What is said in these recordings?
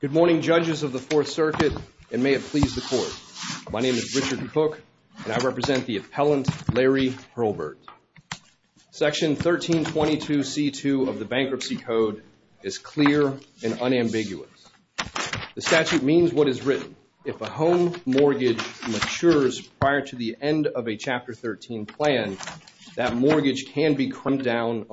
Good morning judges of the 4th circuit and may it please the court. My name is Richard Cook and I represent the appellant Larry Hurlburt. Section 1322 C2 of the Bankruptcy Code is clear and unambiguous. The statute means what is written. If a home mortgage matures prior to the end of a Chapter 13 plan, that We know the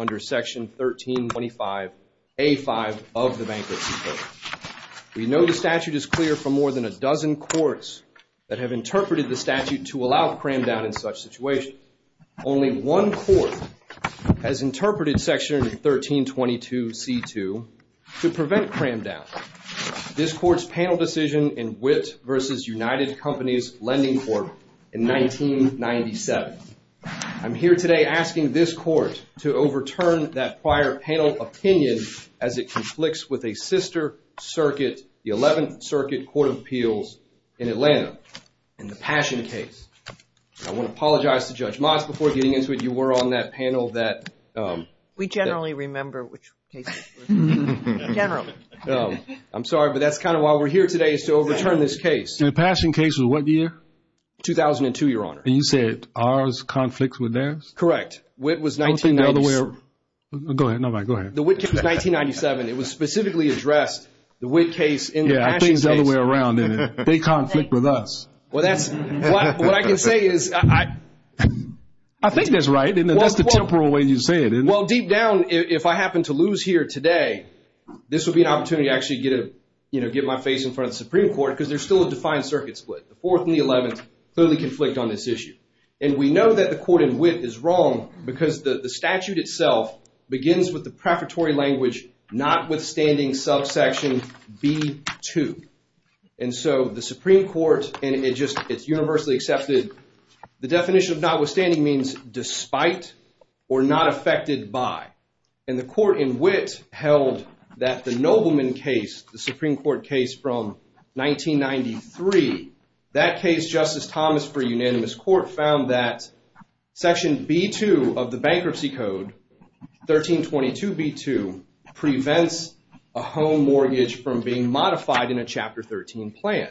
statute is clear for more than a dozen courts that have interpreted the statute to allow cram down in such situations. Only one court has interpreted section 1322 C2 to prevent cram down. This court's panel decision in Witt v. United Companies Lending Court in 1997. I'm here today asking this court to overturn that prior panel opinion as it conflicts with a sister circuit, the 11th Circuit Court of Appeals in Atlanta and the Passion case. I want to apologize to Judge Moss before getting into it. You were on that panel that we generally remember. I'm sorry but that's kind of why we're here today is to overturn this case. The Passion case was what year? 2002 your honor. And you said ours conflicts with theirs? Correct. The Witt case was 1997. It was specifically addressed. The Witt case in the Passion case. Yeah, I think the other way around in it. They conflict with us. I think that's right in the temporal way you say it. Well deep down if I happen to lose here today, this would be an opportunity to actually get my face in front of the Supreme Court because there's still a defined circuit split. The 4th and the 11th clearly conflict on this issue. And we know that the statute itself begins with the preparatory language notwithstanding subsection B2. And so the Supreme Court and it just it's universally accepted the definition of notwithstanding means despite or not affected by. And the court in Witt held that the Nobleman case, the Supreme Court case from 1993, that case Justice Thomas for unanimous court found that section B2 of the bankruptcy code 1322 B2 prevents a home mortgage from being modified in a chapter 13 plan.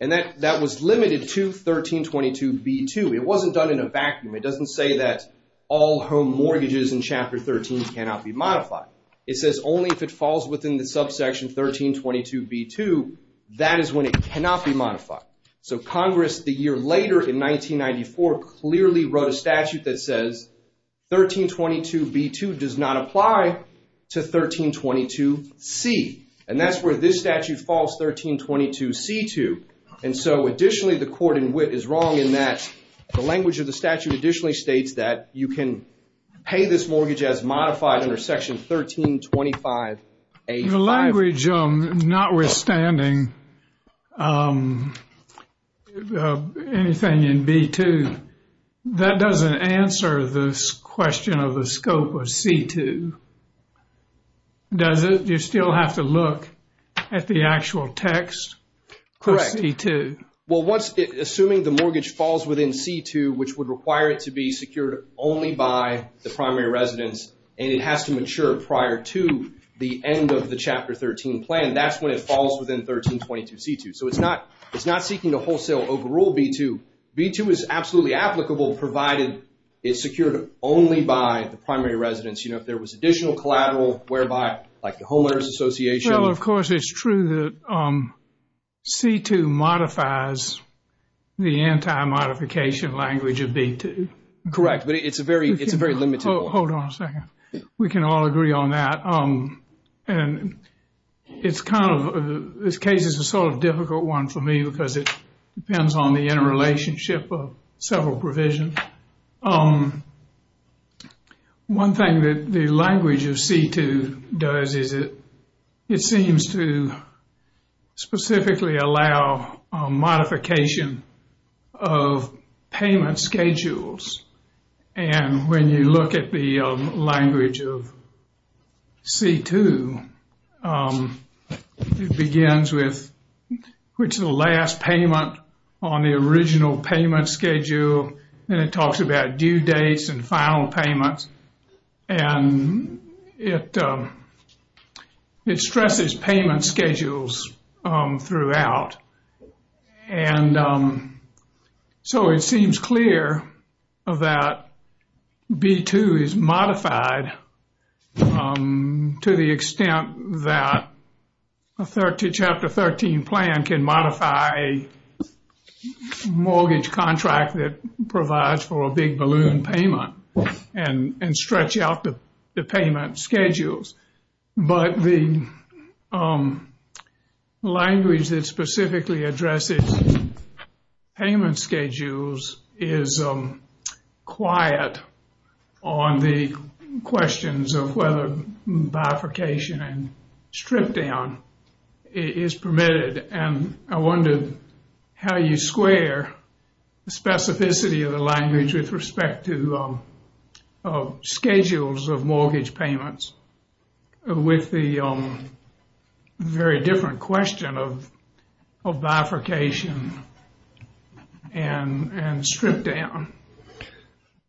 And that that was limited to 1322 B2. It wasn't done in a vacuum. It doesn't say that all home mortgages in chapter 13 cannot be modified. It says only if it falls within the subsection 1322 B2 that is when it cannot be modified. So Congress the year later in 1994 clearly wrote a statute that says 1322 B2 does not apply to 1322 C. And that's where this statute falls 1322 C to. And so additionally the court in Witt is wrong in that the language of the statute additionally states that you can pay this mortgage as modified under section 1325 A. The language of notwithstanding anything in B2 that doesn't answer this question of the scope of C2. Does it you still have to look at the actual text? Correct. Well what's it assuming the mortgage falls within C2 which would require it to be secured only by the primary resident and it has to mature prior to the end of the chapter 13 plan. That's when it falls within 1322 C2. So it's not it's not seeking to wholesale overrule B2. B2 is absolutely applicable provided it's secured only by the primary residents. You know if there was additional collateral whereby like the homeowners association. Well of Correct. But it's a very it's very limited. Hold on a second. We can all agree on that. And it's kind of this case is a sort of difficult one for me because it depends on the interrelationship of several provisions. One thing that the language of C2 does is it seems to specifically allow modification of payment schedules. And when you look at the language of C2 it begins with which is the last payment on the original payment schedule. Then it talks about due dates and final payments. And it stresses payment schedules throughout. And so it seems clear that B2 is modified to the extent that a chapter 13 plan can modify a mortgage contract that provides for a big balloon payment and stretch out the payment schedules. But the language that specifically addressed payment schedules is quiet on the questions of whether modification and strip down.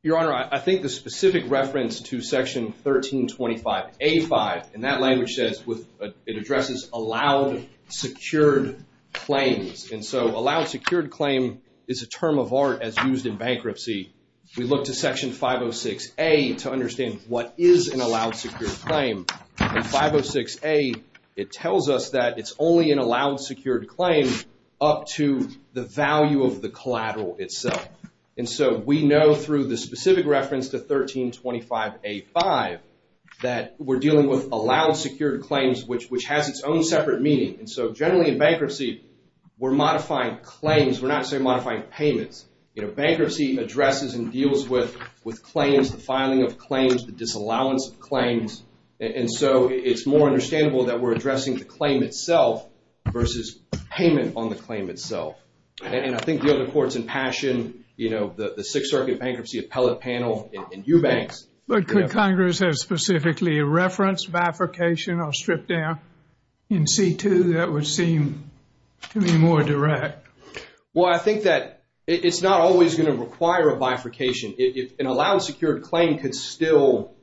Your Honor, I think the specific reference to section 1325A5 and that language says it addresses allowed secured claims. And so allowed secured claim is a term of art as used to look to section 506A to understand what is an allowed secured claim. In 506A it tells us that it's only an allowed secured claim up to the value of the collateral itself. And so we know through the specific reference to 1325A5 that we're dealing with allowed secured claims which has its own separate meaning. And so generally in bankruptcy we're modifying claims. We're not saying modifying payments. Bankruptcy addresses and deals with claims, the filing of claims, the disallowance of claims. And so it's more understandable that we're addressing the claim itself versus payment on the claim itself. And I think the other courts in passion, you know, the Sixth Circuit Bankruptcy Appellate Panel and you banks. But could Congress have specifically a reference of application of strip down in C2 that would seem to be more direct? Well, I think that it's not always going to require a bifurcation. An allowed secured claim could still,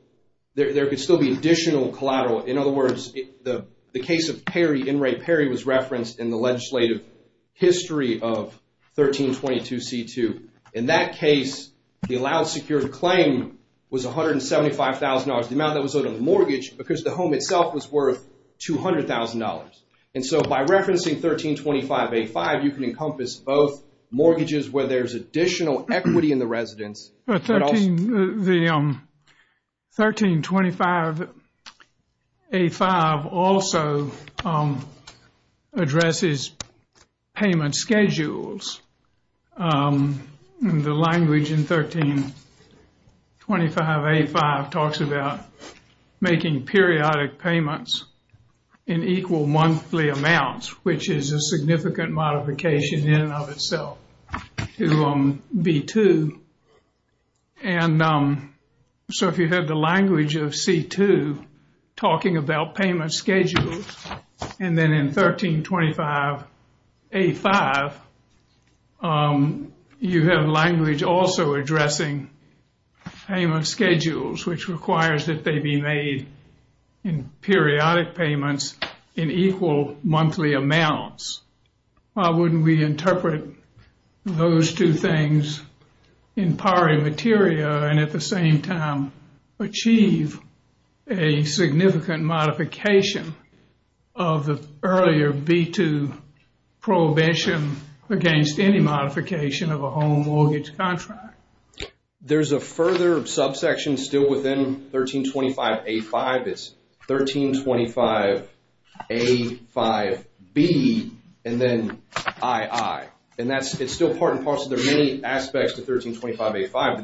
there could still be additional collateral. In other words, the case of Perry, Enright Perry, was referenced in the legislative history of 1322C2. In that case, the allowed secured claim was $175,000. The amount that was owed on the mortgage because the home itself was $200,000. And so by referencing 1325A5, you can encompass both mortgages where there's additional equity in the residence. But 1325A5 also addresses payment schedules. The language in 1325A5 talks about making periodic payments in equal monthly amounts, which is a significant modification in and of itself to B2. And so if you have the language of C2 talking about payment schedules, and then in 1325A5, you have language also addressing payment schedules, which requires that they be made in periodic payments in equal monthly amounts. Why wouldn't we interpret those two things in pari materia and at the same time achieve a significant modification of the earlier B2 prohibition against any modification of a home mortgage contract? There's a further subsection still within 1325A5. It's 1325A5B and then II. And it's still part and parcel. There are many aspects to 1325A5.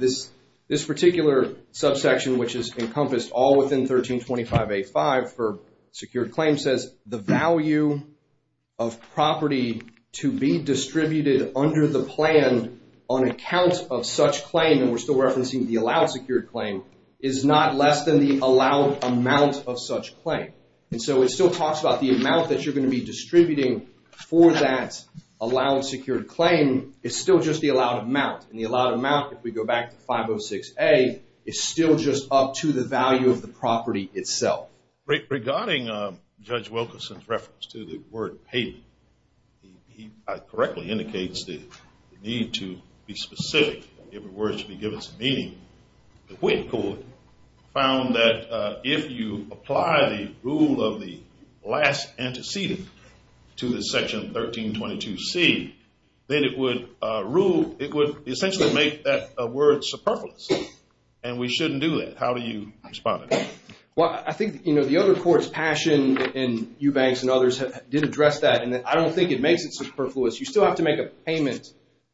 This particular subsection, which is encompassed all within 1325A5 for secured claim, says the value of property to be distributed under the plan on accounts of such claim, and we're still referencing the allowed secured claim, is not less than the allowed amount of such claim. And so it still talks about the amount that you're going to be distributing for that allowed secured claim is still just the allowed amount. And the allowed amount, if we go back to 506A, is still just up to the value of the property itself. Regarding Judge Wilkinson's reference to the word paid, he correctly indicates the need to be specific. In other words, to be given some meaning. The Quid Court found that if you apply the rule of the last antecedent to the section 1322C, then it would rule, it would essentially make that word superfluous. And we shouldn't do that. How do you respond to that? Well, I think, you know, the other courts, Passion and Eubanks and others did address that. And I don't think it makes it superfluous. You still have to make a payment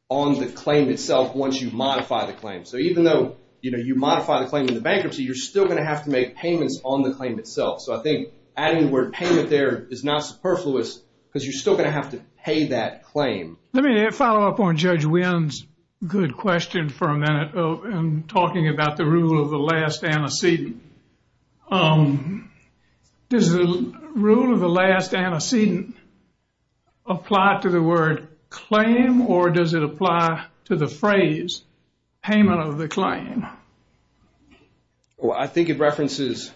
on the claim itself once you modify the claim. So even though, you know, you modify the claim in the bankruptcy, you're still going to have to make payments on the claim itself. So I think adding the word payment there is not superfluous because you're still going to have to pay that claim. Let me follow up on Judge Wynn's good question for a minute in talking about the rule of the last antecedent. Does the rule of the last antecedent apply to the word claim, or does it apply to the phrase payment of the claim? Well, I think it references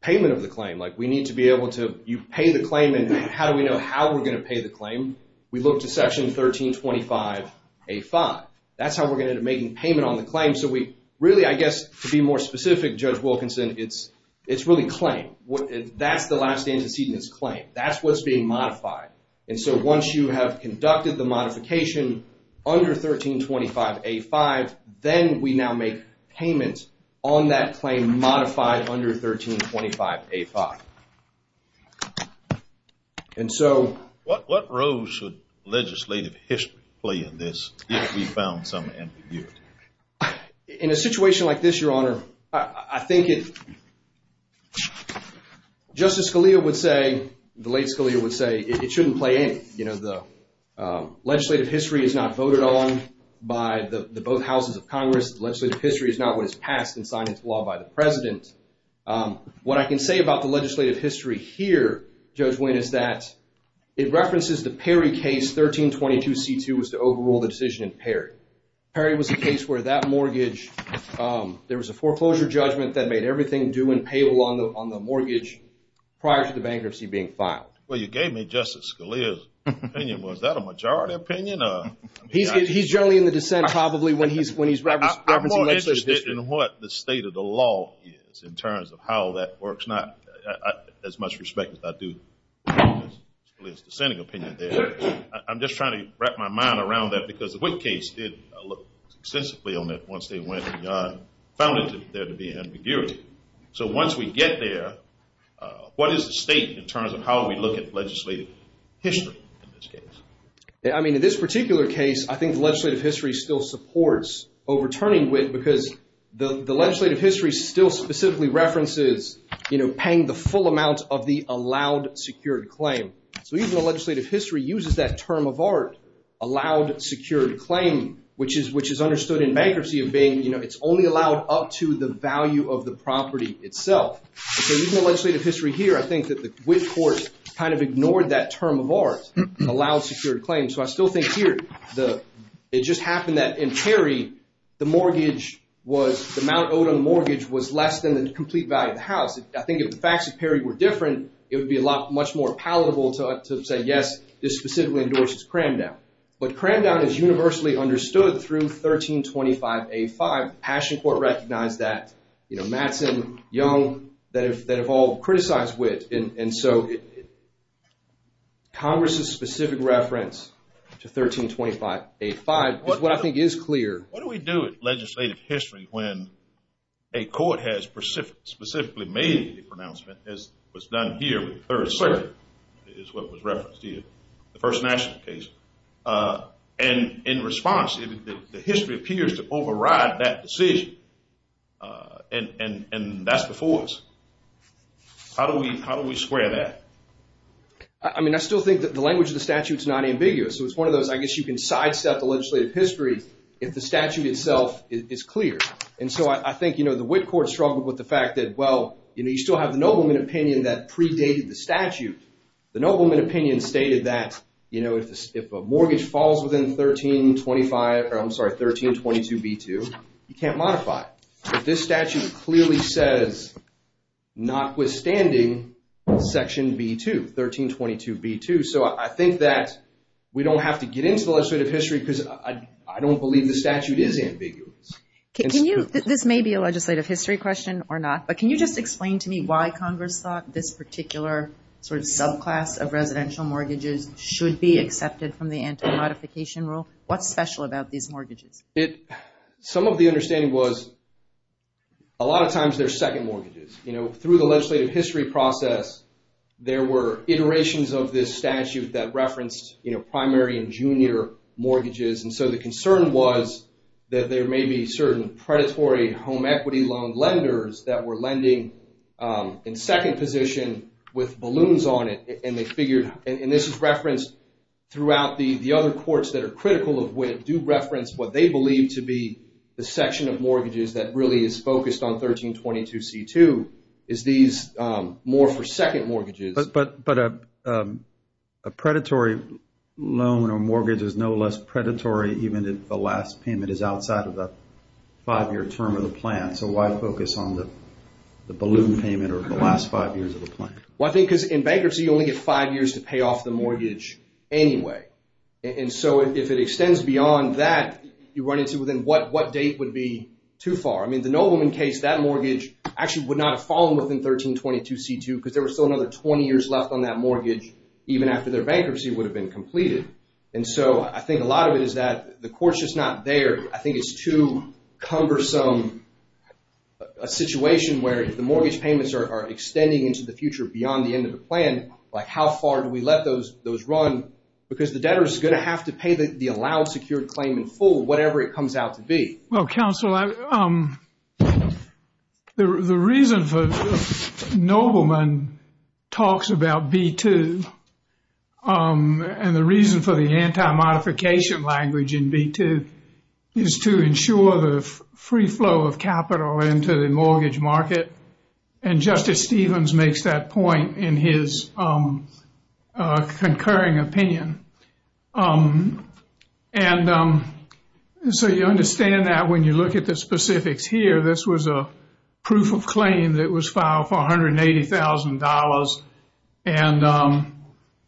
payment of the claim. Like, we need to be able to, you've paid the claim, and how do we know how we're going to pay the claim? We look to section 1325A5. That's how we're going to end up making payment on the claim. So we really, I guess, to be more specific, Judge Wilkinson, it's really claim. That's the last antecedent, it's claim. That's what's being modified. And so once you have conducted the modification under 1325A5, then we now make payments on that claim modified under 1325A5. And so... What role should legislative history play in this if we found some ambiguity? In a situation like this, Your Honor, I think it... Justice Scalia would say, the late Scalia would say, it shouldn't play any. You know, the legislative history is not voted on by the both houses of Congress. Legislative history is not what is passed and signed into law by the president. What I can say about the legislative history here, Judge Wynn, is that it references the Perry case, 1322C2 was the overall decision in Perry. Perry was the case where that mortgage, there was a foreclosure judgment that made everything due and payable on the mortgage prior to the bankruptcy being filed. Well, you gave me Justice Scalia's opinion. Was that a majority opinion? He's generally in the dissent probably when he's referencing... I'm more interested in what the state of the law is in terms of how that works, not as much respect as I do Justice Scalia's dissenting opinion there. I'm just trying to wrap my mind around that because the Wynn case did look extensively on that once they went and found it there to be an ambiguity. So once we get there, what is the state in terms of how we look at legislative history in this case? I mean, in this particular case, I think legislative history still supports overturning Wynn because the legislative history still specifically references, you know, paying the full amount of the allowed secured claim. So even though legislative history uses that term of art, allowed secured claim, which is understood in bankruptcy of being, you know, it's only allowed up to the value of the property itself. So even in legislative history here, I think that the Wynn court kind of ignored that term of art, allowed secured claim. So I still think here, it just happened that in Perry, the mortgage was, the amount owed on mortgage was less than the complete value of the house. I think if the facts of Perry were different, it would be a lot much more palatable to say, yes, this specifically endorses cram down. But cram down is universally understood through 1325A5. Ashencourt recognized that, you know, Matson, Young, that have all criticized Wynn. And so Congress's specific reference to 1325A5 is what I think is clear. What do we do with legislative history when a court has specifically made the pronouncement, as was done here with the Third Circuit, is what was referenced here, the First National case. And in response, the history appears to override that decision. And that's the force. How do we square that? I mean, I still think that the language of the statute is not ambiguous. So it's one of those, I guess you can sidestep the legislative history if the statute itself is clear. And so I think, you know, the Whitcourt struggled with the fact that, well, you know, you still have the nobleman opinion that predated the statute. The nobleman opinion stated that, you know, if a mortgage falls within 1325, or I'm sorry, 1322B2, you can't modify it. This statute clearly says, notwithstanding section B2, 1322B2. So I think that we don't have to get into the legislative history because I don't believe the statute is ambiguous. Can you, this may be a legislative history question or not, but can you just explain to me why Congress thought this particular sort of subclass of residential mortgages should be accepted from the anti-modification rule? What's special about these mortgages? Some of the understanding was a lot of times they're second mortgages. You know, through the legislative history process, there were iterations of this statute that referenced, you know, primary and junior mortgages. And so the concern was that there may be certain predatory home equities on lenders that were lending in second position with balloons on it, and they figured, and this is referenced throughout the other courts that are critical of when it do reference what they believe to be the section of mortgages that really is focused on 1322C2, is these more for second mortgages. But a predatory loan or mortgage is no less predatory even if the last payment is outside of the five-year term of the plan. So why focus on the balloon payment or the last five years of the plan? Well, I think because in bankruptcy, you only get five years to pay off the mortgage anyway. And so if it extends beyond that, you run into within what date would be too far. I mean, the no woman case, that mortgage actually would not have fallen within 1322C2 because there was still another 20 years left on that mortgage even after their bankruptcy would have been completed. And so I think a lot of it is that the court's just not there. I think it's too cumbersome a situation where if the mortgage payments are extending into the future beyond the end of the plan, like how far do we let those run? Because the debtor is going to have to pay the allowed secured claim in full, whatever it comes out to be. Well, counsel, the reason for no woman talks about B2 and the reason for the anti-modification language in B2 is to ensure the free flow of capital into the mortgage market. And Justice Stevens makes that in his concurring opinion. And so you understand that when you look at the specifics here, this was a proof of claim that was filed for $180,000. And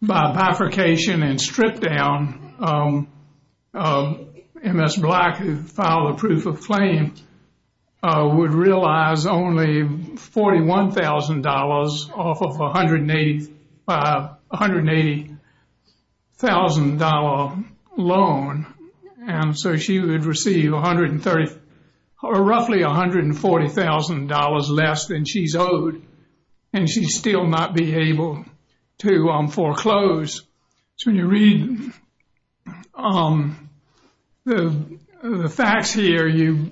by bifurcation and strip down, Ms. Black, who filed a proof of claim, would realize only $41,000 off of a $180,000 loan. And so she would receive roughly $140,000 less than she's owed. And she still might be able to foreclose. So when you read the facts here, you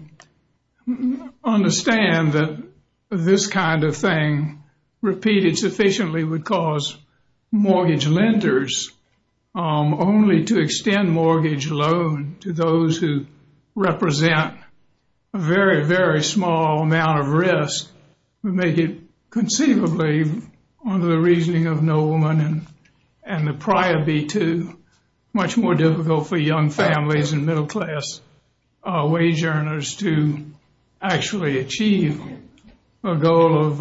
understand that this kind of thing repeated sufficiently would cause mortgage lenders only to extend mortgage loan to those who represent a very, very small amount of risk who make it conceivably under the reasoning of no woman and the prior B2, much more difficult for young families and middle class wage earners to actually achieve a goal of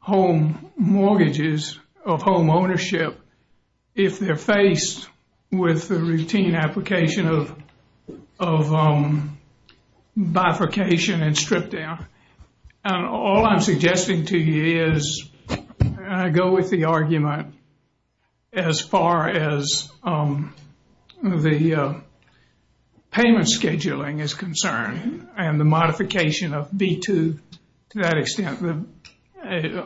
home mortgages, of home ownership, if they're faced with the routine application of bifurcation and strip down. All I'm suggesting to you is, and I go with the argument, as far as the payment scheduling is concerned and the modification of B2 to that extent,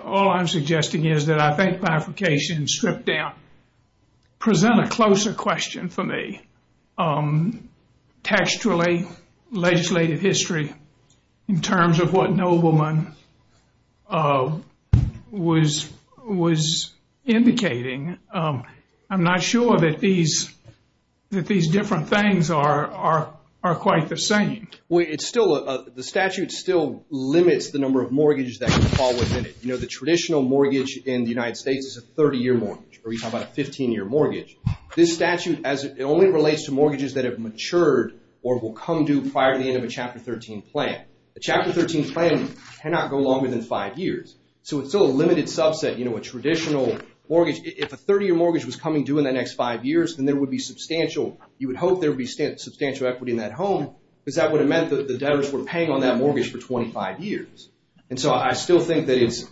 all I'm suggesting is that I think bifurcation and strip down present a closer question for me textually, legislative history, in terms of what no woman was indicating. I'm not sure that these different things are quite the same. The statute still limits the number of mortgages that fall within it. The traditional mortgage in the United States is a 30-year mortgage, or you have a 15-year mortgage. This statute, it only relates to mortgages that have matured or will come due prior to the end of a Chapter 13 plan. A Chapter 13 plan cannot go longer than five years. It's still a limited subset. A traditional mortgage, if a 30-year mortgage was coming due in the next five years, then there would be substantial, you would hope there would be substantial equity in that home, because that would have meant that the debtors were paying on that mortgage for 25 years. I still think that it's,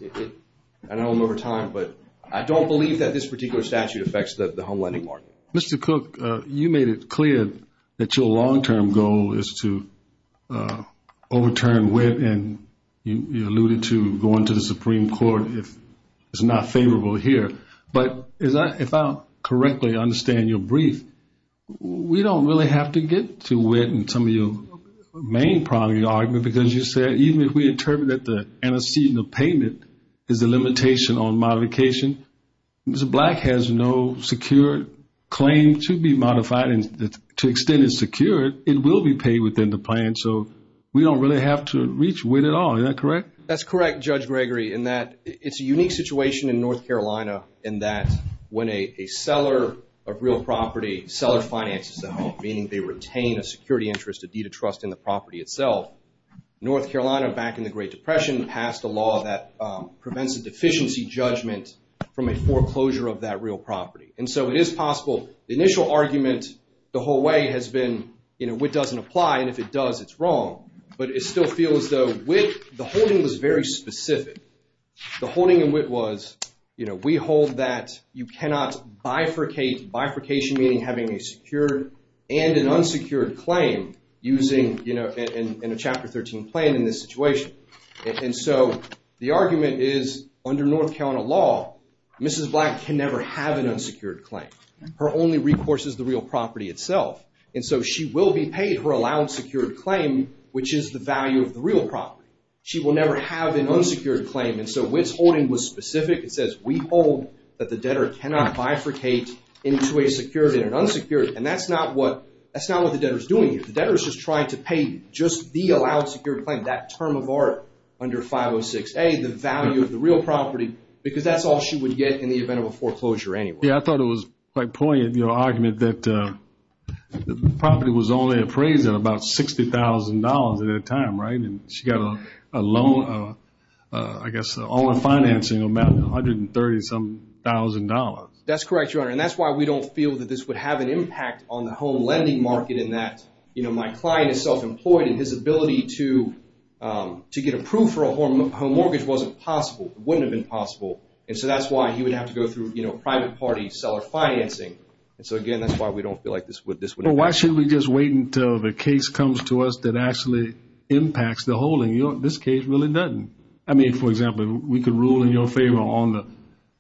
I don't know the time, but I don't believe that this particular statute affects the home lending market. Mr. Cook, you made it clear that your long-term goal is to overturn WIT, and you alluded to going to the Supreme Court if it's not favorable here. But if I correctly understand your brief, we don't really have to get to WIT in some of your main primary argument, because you said even if we interpret that the antecedent of payment is a limitation on modification, Mr. Black has no secure claim to be modified. And to extend it secure, it will be paid within the plan. So we don't really have to reach WIT at all. Is that correct? That's correct, Judge Gregory, in that it's a unique situation in North Carolina in that when a seller of real property, seller finances the home, meaning they retain a security interest, a deed of trust in the property itself, North Carolina, back in the Great Depression, passed a law that prevents a deficiency judgment from a foreclosure of that real property. And so it is possible, the initial argument the whole way has been, you know, WIT doesn't apply, and if it does, it's wrong. But it still feels though, WIT, the holding was very specific. The holding in WIT was, you know, we hold that you cannot bifurcate, bifurcation meaning having a secure and an a Chapter 13 plan in this situation. And so the argument is, under North Carolina law, Mrs. Black can never have an unsecured claim. Her only recourse is the real property itself. And so she will be paid her allowed secured claim, which is the value of the real property. She will never have an unsecured claim. And so WIT's holding was specific. It says, we hold that the debtor cannot bifurcate into a secured and an unsecured. And that's not what, the debtor's doing. The debtor's just trying to pay just the allowed secured claim, that term of art under 506A, the value of the real property, because that's all she would get in the event of a foreclosure anyway. Yeah, I thought it was quite poignant, you know, argument that the property was only appraised at about $60,000 at the time, right? And she got a loan, I guess, all her financing amounted to 130 some thousand dollars. That's correct, Your Honor. And that's why we don't feel that this would have an impact on the home lending market in that, you know, my client is self-employed and his ability to get approved for a home mortgage wasn't possible, wouldn't have been possible. And so that's why he would have to go through, you know, private party seller financing. And so again, that's why we don't feel like this would... Why shouldn't we just wait until the case comes to us that actually impacts the whole thing? This case really doesn't. I mean, for example, we can rule in your favor on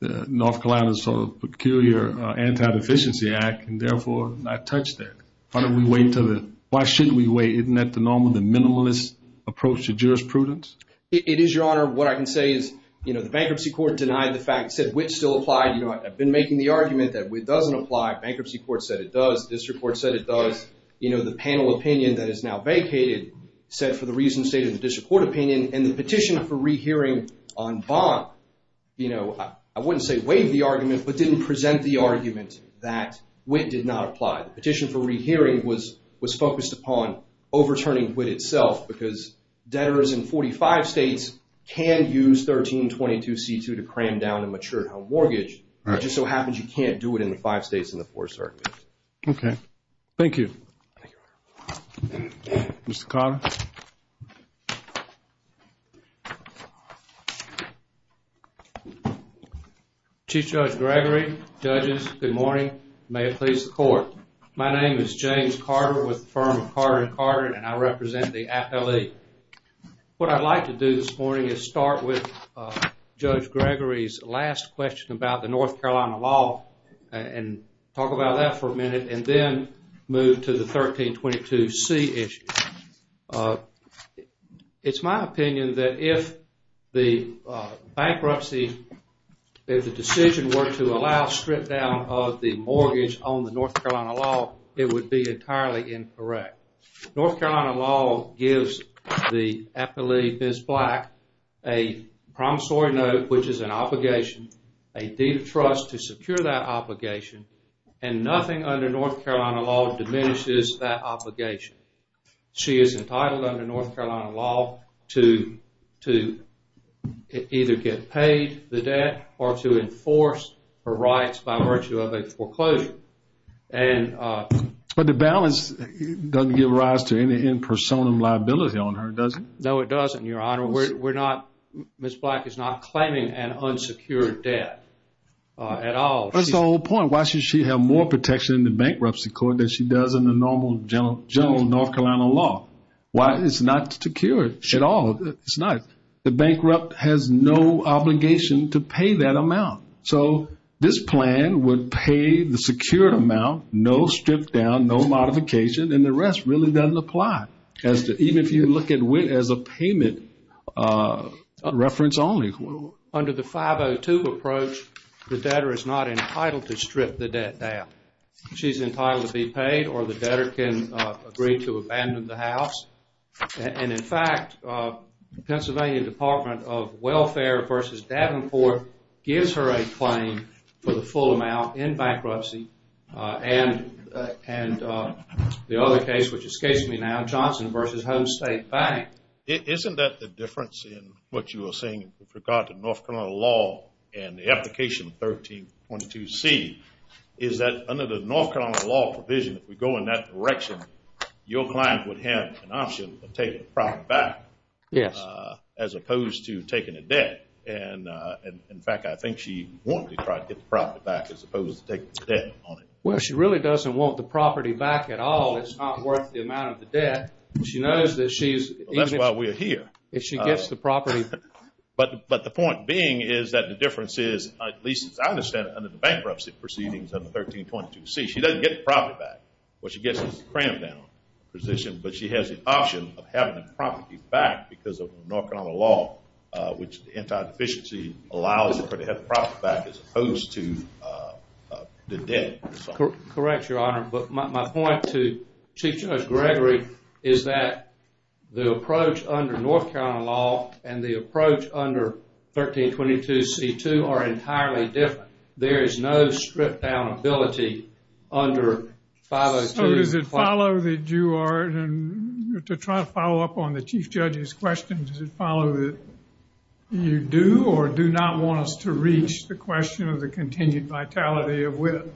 the Peculiar Anti-Deficiency Act, and therefore I touched there. Why don't we wait until the... Why shouldn't we wait? Isn't that the normal, the minimalist approach to jurisprudence? It is, Your Honor. What I can say is, you know, the bankruptcy court denied the fact, said which still applies. You know, I've been making the argument that it doesn't apply. Bankruptcy court said it does. District court said it does. You know, the panel opinion that is now vacated said for the reasons stated in the district court opinion and the petition for waived the argument but didn't present the argument that WIT did not apply. The petition for rehearing was focused upon overturning WIT itself because debtors in 45 states can use 1322C2 to cram down a matured home mortgage. It just so happens you can't do it in the five states and the four circuits. Okay. Thank you. Thank you, Your Honor. Mr. Carter? Chief Judge Gregory, judges, good morning. May it please the court. My name is James Carter with the firm of Carter & Carter, and I represent the AFL-E. What I'd like to do this morning is start with Judge Gregory's last question about the North Carolina law and talk about that for the 1322C issue. It's my opinion that if the bankruptcy, if the decision were to allow strip down of the mortgage on the North Carolina law, it would be entirely incorrect. North Carolina law gives the AFL-E, Ms. Black, a promissory note, which is an obligation, a deed of trust to secure that obligation, and nothing under North Carolina law diminishes that obligation. She is entitled under North Carolina law to either get paid the debt or to enforce her rights by virtue of a foreclosure. But the balance doesn't give rise to any impersonal liability on her, does it? No, it doesn't, Your Honor. Ms. Black is not entitled to secure debt at all. That's the whole point. Why should she have more protection in the bankruptcy court than she does in the normal general North Carolina law? Why? It's not secured at all. It's not. The bankrupt has no obligation to pay that amount. So, this plan would pay the secured amount, no strip down, no modification, and the rest really doesn't apply, even if you look at it as a payment reference only. Under the 502 approach, the debtor is not entitled to strip the debt down. She's entitled to be paid or the debtor can agree to abandon the house. And in fact, Pennsylvania Department of Welfare v. Davenport gives her a claim for the full amount in bankruptcy and the other case, which escapes me now, Johnson v. Home State Bank. Isn't that the difference in what you were saying with regard to North Carolina law and the application 1322C is that under the North Carolina law provision, if you go in that direction, your client would have an option to take the property back as opposed to taking a debt. And in fact, I think she wanted to try to get the property back as opposed to taking the debt on it. Well, she really doesn't want the property back at all. It's not worth the amount of the debt. That's why we're here. If she gets the property. But the point being is that the difference is, at least as I understand it, under the bankruptcy proceedings of 1322C, she doesn't get the property back. What she gets is a cramp down position, but she has the option of having the property back because of the North Carolina law, which the anti-deficiency allows her to have is that the approach under North Carolina law and the approach under 1322C2 are entirely different. There is no stripped down ability under 502. So does it follow that you are, to try to follow up on the Chief Judge's questions, does it follow that you do or do not want us to reach the question of the continued vitality of WIPP?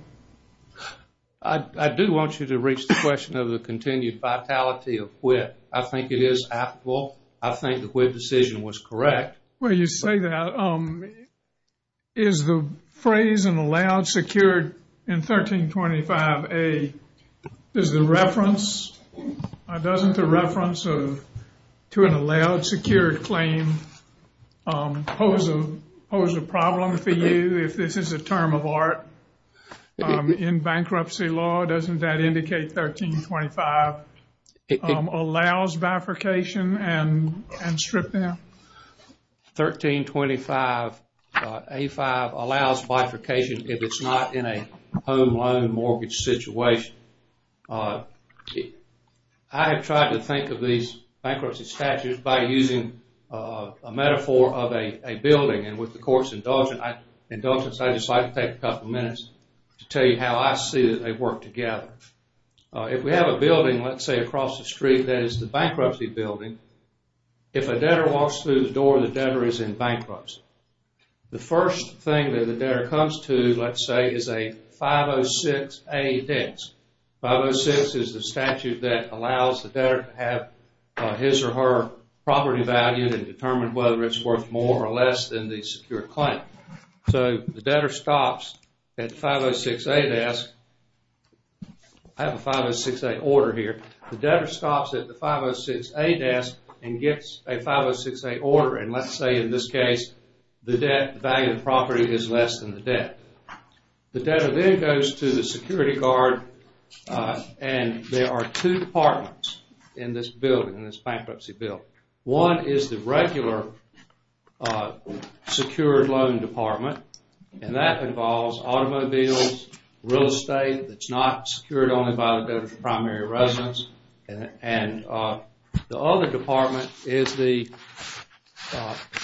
I do want you to reach the question of the continued vitality of WIPP. I think it is applicable. I think the WIPP decision was correct. When you say that, is the phrase in the layout secured in 1325A, is the reference, doesn't the reference to an allowed secured claim pose a problem for you if this is a term of art in bankruptcy law? Doesn't that indicate 1325 allows bifurcation and stripped down? 1325A5 allows bifurcation if it's not in a home loan mortgage situation. I have tried to think of these bankruptcy statutes by using a metaphor of a building and with the court's indulgence, I'd just like to take a couple minutes to tell you how I see that they work together. If we have a building, let's say across the street, that is the bankruptcy building, if a debtor walks through the door, the debtor is in bankruptcy. The first thing that the debtor does is the 506A desk. 506 is the statute that allows the debtor to have his or her property value and determine whether it's worth more or less than the secured claim. So the debtor stops at the 506A desk. I have a 506A order here. The debtor stops at the 506A desk and gets a 506A order. Let's say in this case, the value of the property is less than the debt. The debtor then goes to the security guard and there are two departments in this building, in this bankruptcy building. One is the regular secured loan department and that involves automobiles, real estate that's not secured only by the primary residence and the other department is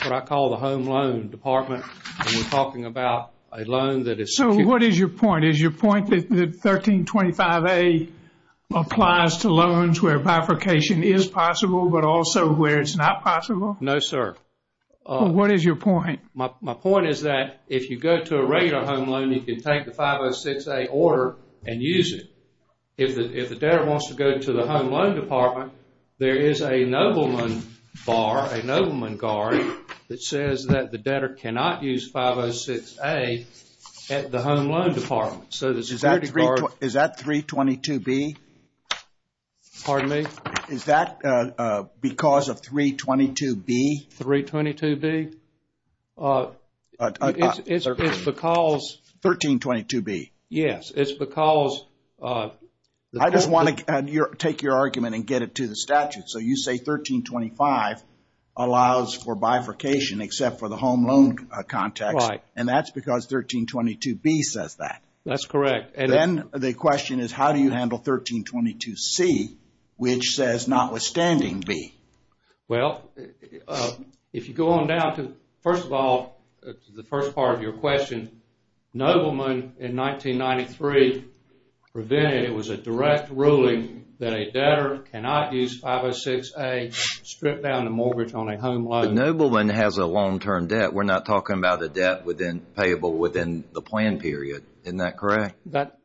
what I call the home loan department. You're talking about a loan that is... So what is your point? Is your point that 1325A applies to loans where bifurcation is possible but also where it's not possible? No, sir. What is your point? My point is that if you go to a regular home loan, you can take the 506A order and use it. If the debtor wants to go to the home loan department, there is a nobleman bar, a nobleman guard that says that the debtor cannot use 506A at the home loan department. Is that 322B? Pardon me? Is that because of 322B? 322B? It's because... 1322B. Yes, it's because... I just want to take your argument and get it to the statute. So you say 1325 allows for bifurcation except for the home loan context. Right. And that's because 1322B says that. That's correct. Then the question is how do you handle 1322C which says notwithstanding B? Well, if you go on down to, first of all, the first part of your question, nobleman in 1993 prevented, it was a direct ruling that a debtor cannot use 506A, strip down the mortgage on a home loan. Nobleman has a long-term debt. We're not talking about a debt within payable within the plan period. Isn't that correct?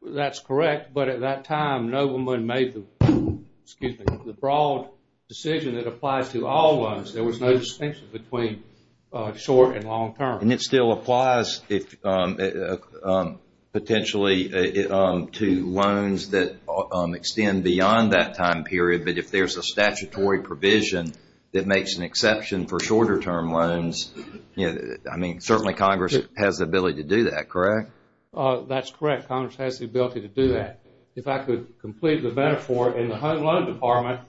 That's correct. But at that time, nobleman made the broad decision that applied to all loans. There was no distinction between short and long-term. And it still applies potentially to loans that extend beyond that time period. But if there's a statutory provision that makes an exception for shorter-term loans, I mean, certainly Congress has the ability to do that, correct? That's correct. Congress has the ability to do that. If I could complete the metaphor, in the home loan department,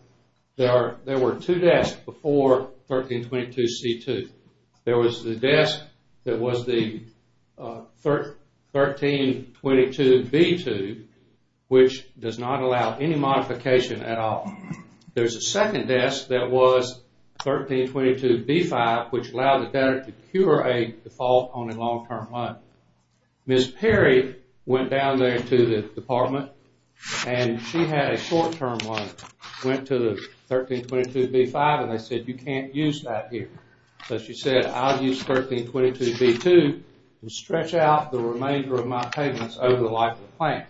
there were two debts before 1322C2. There was the debt that was the 1322B2, which does not allow any modification at all. There's a second debt that was 1322B5, which allowed the debtor to procure a default on a long-term loan. Ms. Perry went down there to the department, and she had a short-term loan, went to the 1322B5, and they said, you can't use that here. So she said, I'll use 1322B2 to stretch out the remainder of my payments over the life of the plan.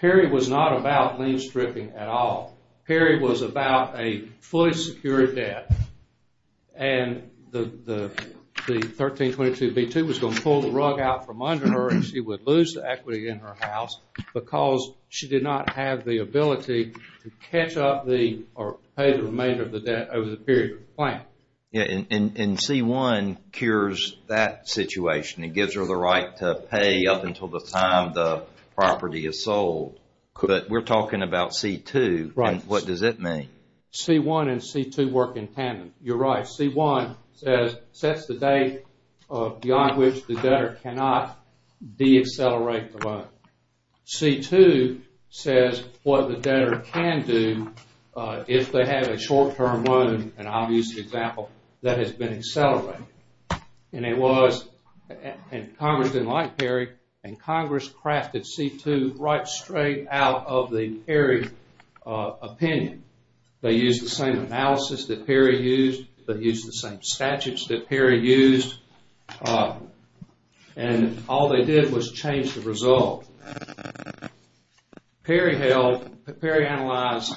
Perry was not about lien stripping at all. Perry was about a fully secured debt. And the 1322B2 was going to pull the rug out from under her, and she would lose the equity in her house because she did not have the ability to catch up or pay the remainder of the debt over the period of the plan. Yeah, and C1 cures that situation. It gives her the right to pay up until the time the property is sold. But we're talking about C2, and what does it mean? C1 and C2 work in tandem. You're right. C1 says, sets the date beyond which the debtor cannot deaccelerate the loan. C2 says what the debtor can do if they have a short-term loan, and I'll use the example, that has been accelerated. And it was, and Congress didn't like Perry, and Congress crafted C2 right straight out of the Perry opinion. They used the same analysis that Perry used. They used the same statutes that Perry used. And all they did was change the result. Perry held, Perry analyzed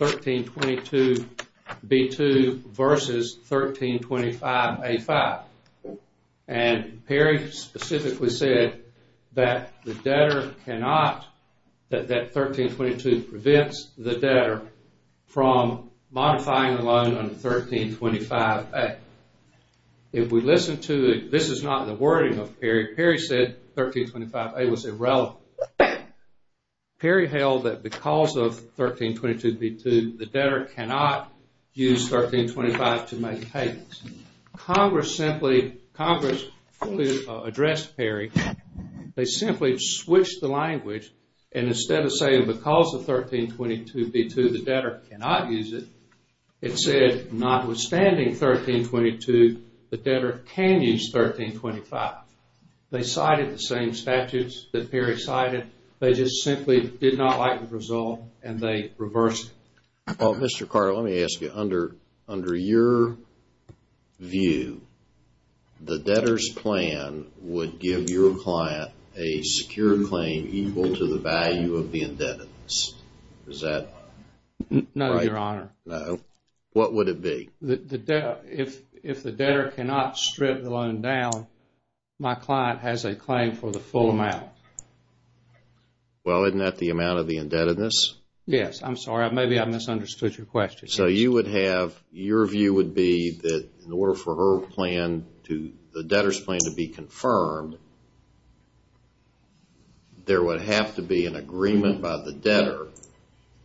1322B2 versus 1325A5. And Perry specifically said that the debtor cannot, that 1322 prevents the debtor from modifying the loan under 1325A. If we listen to it, this is not the wording of Perry. Perry said 1325A was irrelevant. Perry held that because of 1322B2, the debtor cannot use 1325 to make payments. Congress simply, Congress addressed Perry. They simply switched the language, and instead of saying because of 1322B2, the debtor cannot use it, it said notwithstanding 1322, the debtor can use 1325. They cited the same statutes that Perry cited. They just simply did not like the result, and they reversed it. Well, Mr. Carr, let me ask you, under your view, the debtor's plan would give your client a secure claim equal to the value of the indebtedness. Does that... No, Your Honor. No. What would it be? If the debtor cannot strip the loan down, my client has a claim for the full amount. Well, isn't that the amount of the indebtedness? Yes. I'm sorry. Maybe I misunderstood your question. So you would have, your view would be that in order for her plan to, the debtor's plan to be confirmed, there would have to be an agreement by the debtor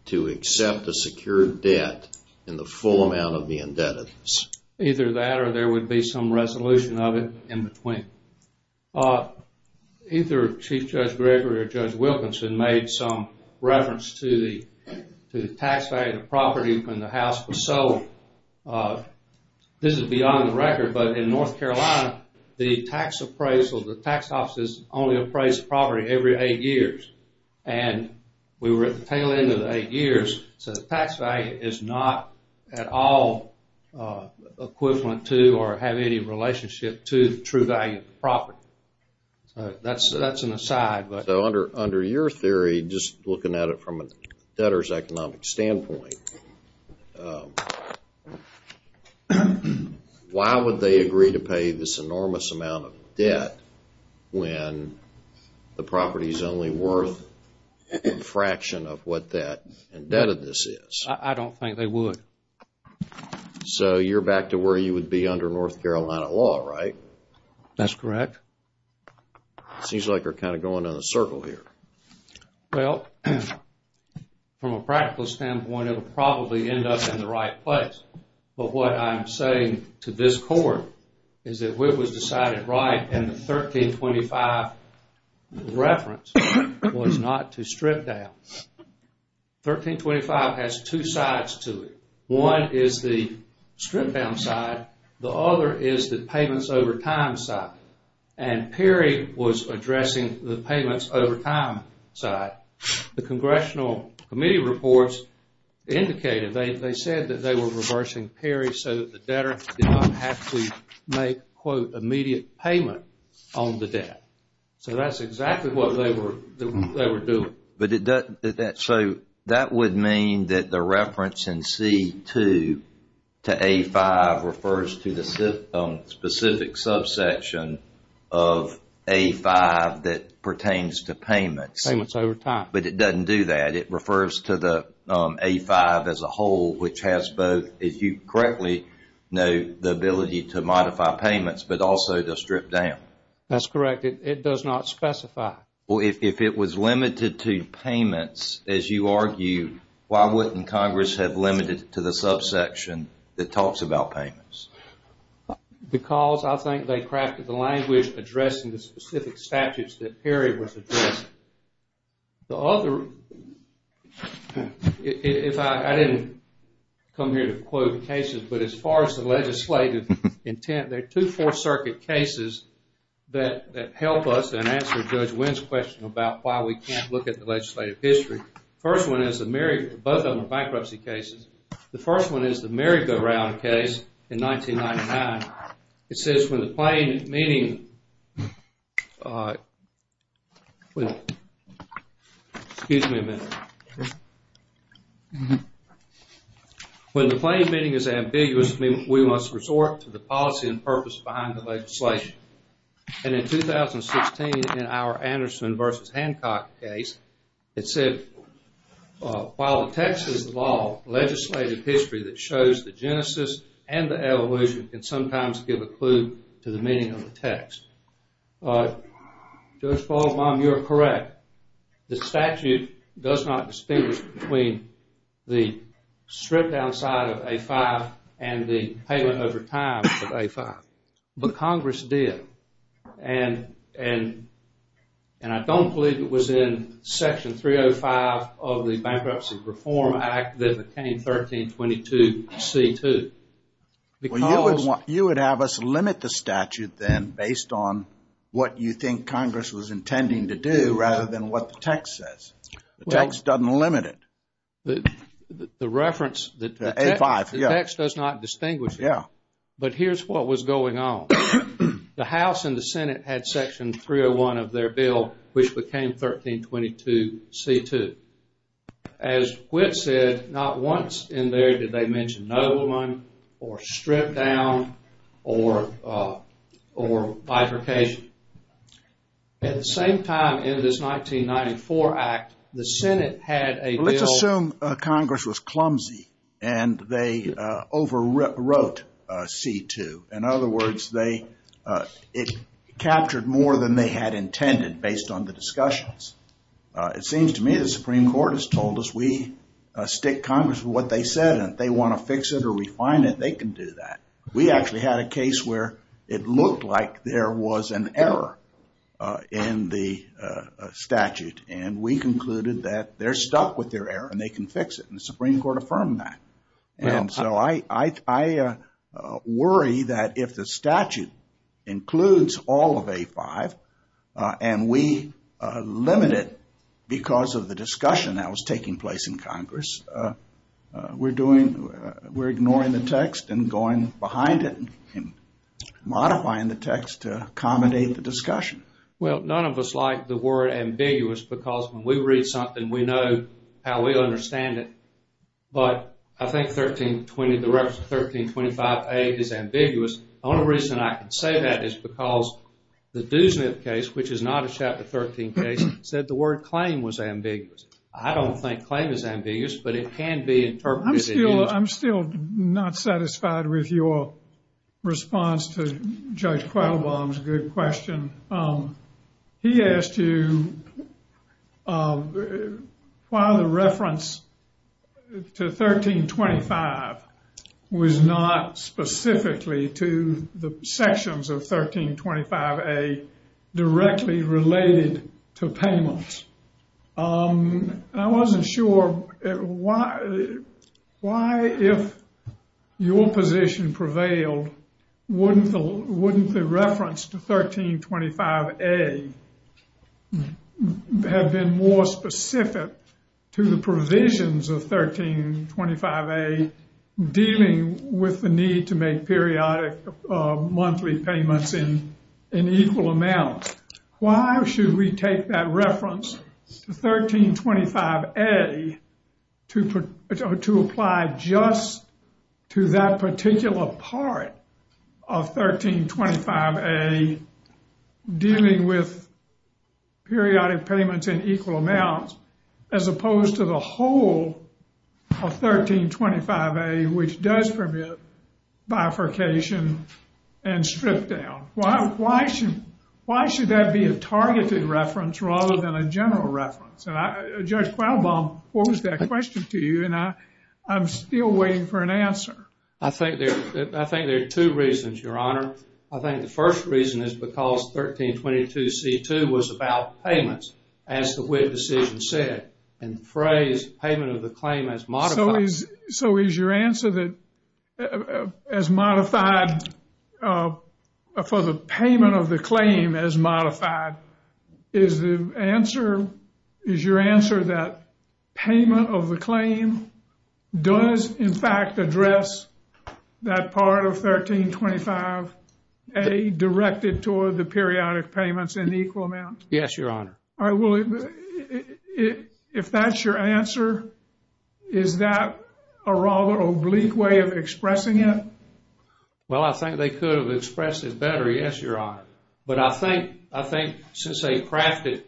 to accept a secure debt in the full amount of the indebtedness. Either that or there would be some resolution of it in the claim. Well, either Chief Judge Gregory or Judge Wilkinson made some reference to the tax value of the property when the house was sold. This is beyond the record, but in North Carolina, the tax appraisal, the tax office only appraised property every eight years. And we were at the tail end of eight years, so the tax value is not at all equivalent to or have any relationship to the true value of the property. That's an aside. So under your theory, just looking at it from a debtor's economic standpoint, why would they agree to pay this enormous amount of debt when the property is only worth a fraction of what that indebtedness is? I don't think they would. So you're back to where you would be under North Carolina law, right? That's correct. It seems like we're kind of going in a circle here. Well, from a practical standpoint, it'll probably end up in the right place. But what I'm saying to this court is that what was decided right in the 1325 reference was not to strip down. 1325 has two sides to it. One is the strip down side. The other is the payments over time side. And Perry was addressing the payments over time side. The Congressional Committee reports indicated, they said that they were reversing Perry so that the debtor did not have to make, quote, immediate payment on the debt. So that's exactly what they were doing. But so that would mean that the reference in C-2 to A-5 refers to the specific subsection of A-5 that pertains to payments. Payments over time. But it doesn't do that. It refers to the A-5 as a whole, which has both, if you correctly know, the ability to modify payments, but also to strip down. That's correct. It does not specify. Well, if it was limited to payments, as you argue, why wouldn't Congress have limited it to the subsection that talks about payments? Because I think they crafted the language addressing the specific statutes that Perry was addressing. The other, if I didn't come here to quote the cases, but as far as the legislative intent, there are two Fourth Circuit cases that help us and answer Judge Wynn's question about why we can't look at the legislative history. First one is the Merrigan, both of them are bankruptcy cases. The first one is the Merrigan case in 1999. It says, when the plain meaning, excuse me a minute. When the plain meaning is ambiguous, we must resort to the policy and purpose behind the legislation. And in 2016, in our Anderson versus Hancock case, it said, while the text is the law, legislative history that shows the genesis and the evolution can sometimes give a clue to the meaning of the text. Judge Baldwin, you're correct. The statute does not distinguish between the strip down side of A5 and the payment over time of A5. But Congress did. And I don't believe it was in Section 305 of the Bankruptcy Reform Act that became 1322 C2. You would have us limit the statute then based on what you think Congress was intending to do rather than what the text says. The text doesn't limit it. The reference, the text does not distinguish. But here's what was going on. The House and the Senate had Section 301 of their bill, which became 1322 C2. As Whit said, not once in there did they mention no one or strip down or bifurcation. At the same time, in this 1994 act, the Senate had a bill- C2. In other words, it captured more than they had intended based on the discussions. It seems to me the Supreme Court has told us we stick Congress with what they said. And if they want to fix it or refine it, they can do that. We actually had a case where it looked like there was an error in the statute. And we concluded that they're stuck with their error and they can fix it. And the Supreme Court affirmed that. And so I worry that if the statute includes all of A5 and we limit it because of the discussion that was taking place in Congress, we're ignoring the text and going behind it and modifying the text to accommodate the discussion. Well, none of us like the word ambiguous because when we read something, we know how we understand it. But I think 1325A is ambiguous. The only reason I can say that is because the Duesmith case, which is not a Chapter 13 case, said the word claim was ambiguous. I don't think claim is ambiguous, but it can be interpreted as- I'm still not satisfied with your response to Judge Qualbaum's good question. He asked you why the reference to 1325 was not specifically to the sections of 1325A directly related to payments. I wasn't sure why, if your position prevailed, wouldn't the reference to 1325A have been more specific to the provisions of 1325A dealing with the need to make periodic monthly payments in equal amounts? Why should we take that reference to 1325A to apply just to that particular part of 1325A dealing with periodic payments in equal amounts as opposed to the whole of 1325A, which does prohibit bifurcation and strip down? Why should that be a targeted reference rather than a general reference? Judge Qualbaum posed that question to you, and I'm still waiting for an answer. I think there are two reasons, Your Honor. I think the first reason is because 1322C2 was about payments, as the witness even said, and phrased payment of the claim as modified. So is your answer that as modified, for the payment of the claim as modified, is your answer that payment of the claim does, in fact, address that part of 1325A directed toward the periodic payments in equal amounts? Yes, Your Honor. Well, if that's your answer, is that a rather oblique way of expressing it? Well, I think they could have expressed it better, yes, Your Honor. But I think since they crafted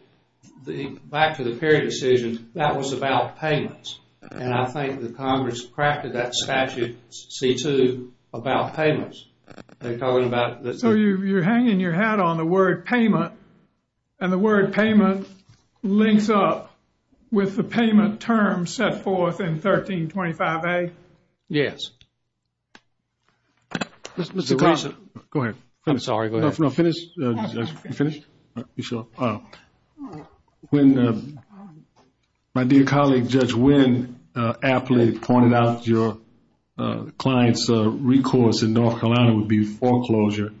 the back of the period decision, that was about payments. And I think the Congress crafted that statute, C2, about payments. So you're hanging your hat on the word payment, and the word payment links up with the payment term set forth in 1325A? Yes. Go ahead. Sorry, go ahead. No, finish. When my dear colleague, Judge Wynn, aptly pointed out your client's recourse in North Carolina would be foreclosure,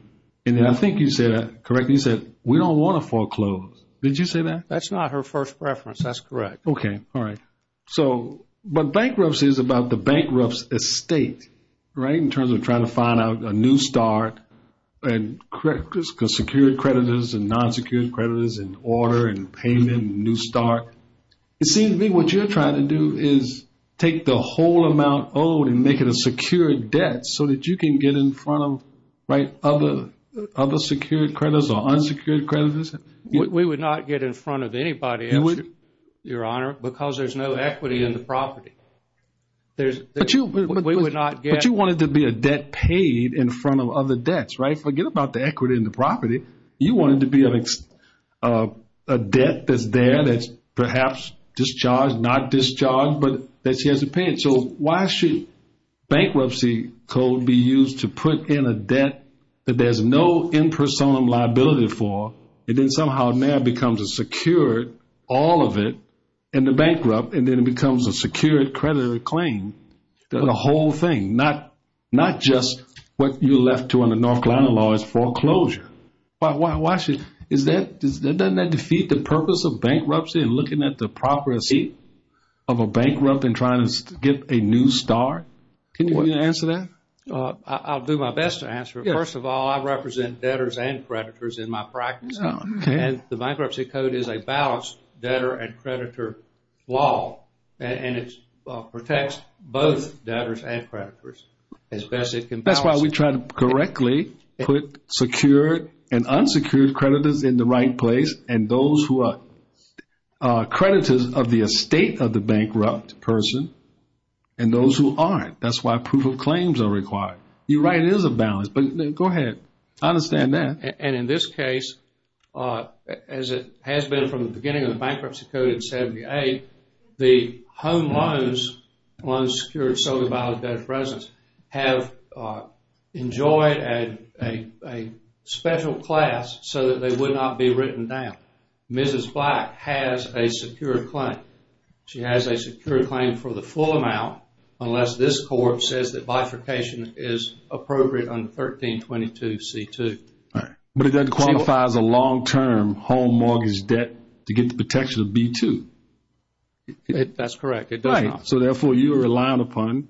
and I think you said, correct me if I'm wrong, we don't want to foreclose. Did you say that? That's not her first preference. That's correct. Okay, all right. But bankruptcy is about the bankrupt's estate, right, in terms of trying to find out a new start and secure creditors and non-secured creditors and order and payment and new start. It seems to me what you're trying to do is take the whole amount owed and make it a secure debt so that you can get in front of other secured creditors or unsecured creditors. We would not get in front of anybody, Your Honor, because there's no equity in the property. But you wanted to be a debt paid in front of other debts, right? Forget about the equity in the property. You wanted to be a debt that's there that's perhaps discharged, not discharged, but that she has to pay. So why should bankruptcy code be used to put in a debt that there's no impersonal liability for and then somehow now becomes a secured, all of it, and the bankrupt, and then it becomes a secured creditor claim, the whole thing, not just what you're left to in the North Carolina law as foreclosure. Why should, doesn't that defeat the purpose of bankruptcy and looking at the property of a bankrupt and trying to get a new start? Can you answer that? I'll do my best to answer it. First of all, I represent debtors and creditors in my practice, and the bankruptcy code is a balanced debtor and creditor law. And it protects both debtors and creditors as best it can. That's why we try to correctly put secured and unsecured creditors in the right place and those who are creditors of the estate of the bankrupt person and those who aren't. That's why proof of claims are required. You're right, it is a balance, but go ahead. I understand that. And in this case, as it has been from the beginning of the bankruptcy code in 78, the home loans, loans secured solely by the debtor's presence, have enjoyed a special class so that they would not be written down. Mrs. Black has a secured claim. She has a secured claim for the full amount unless this court says that bifurcation is appropriate on 1322 C2. But it then qualifies a long-term home mortgage debt to get the protection of B2. That's correct. It does not. So therefore, you're relying upon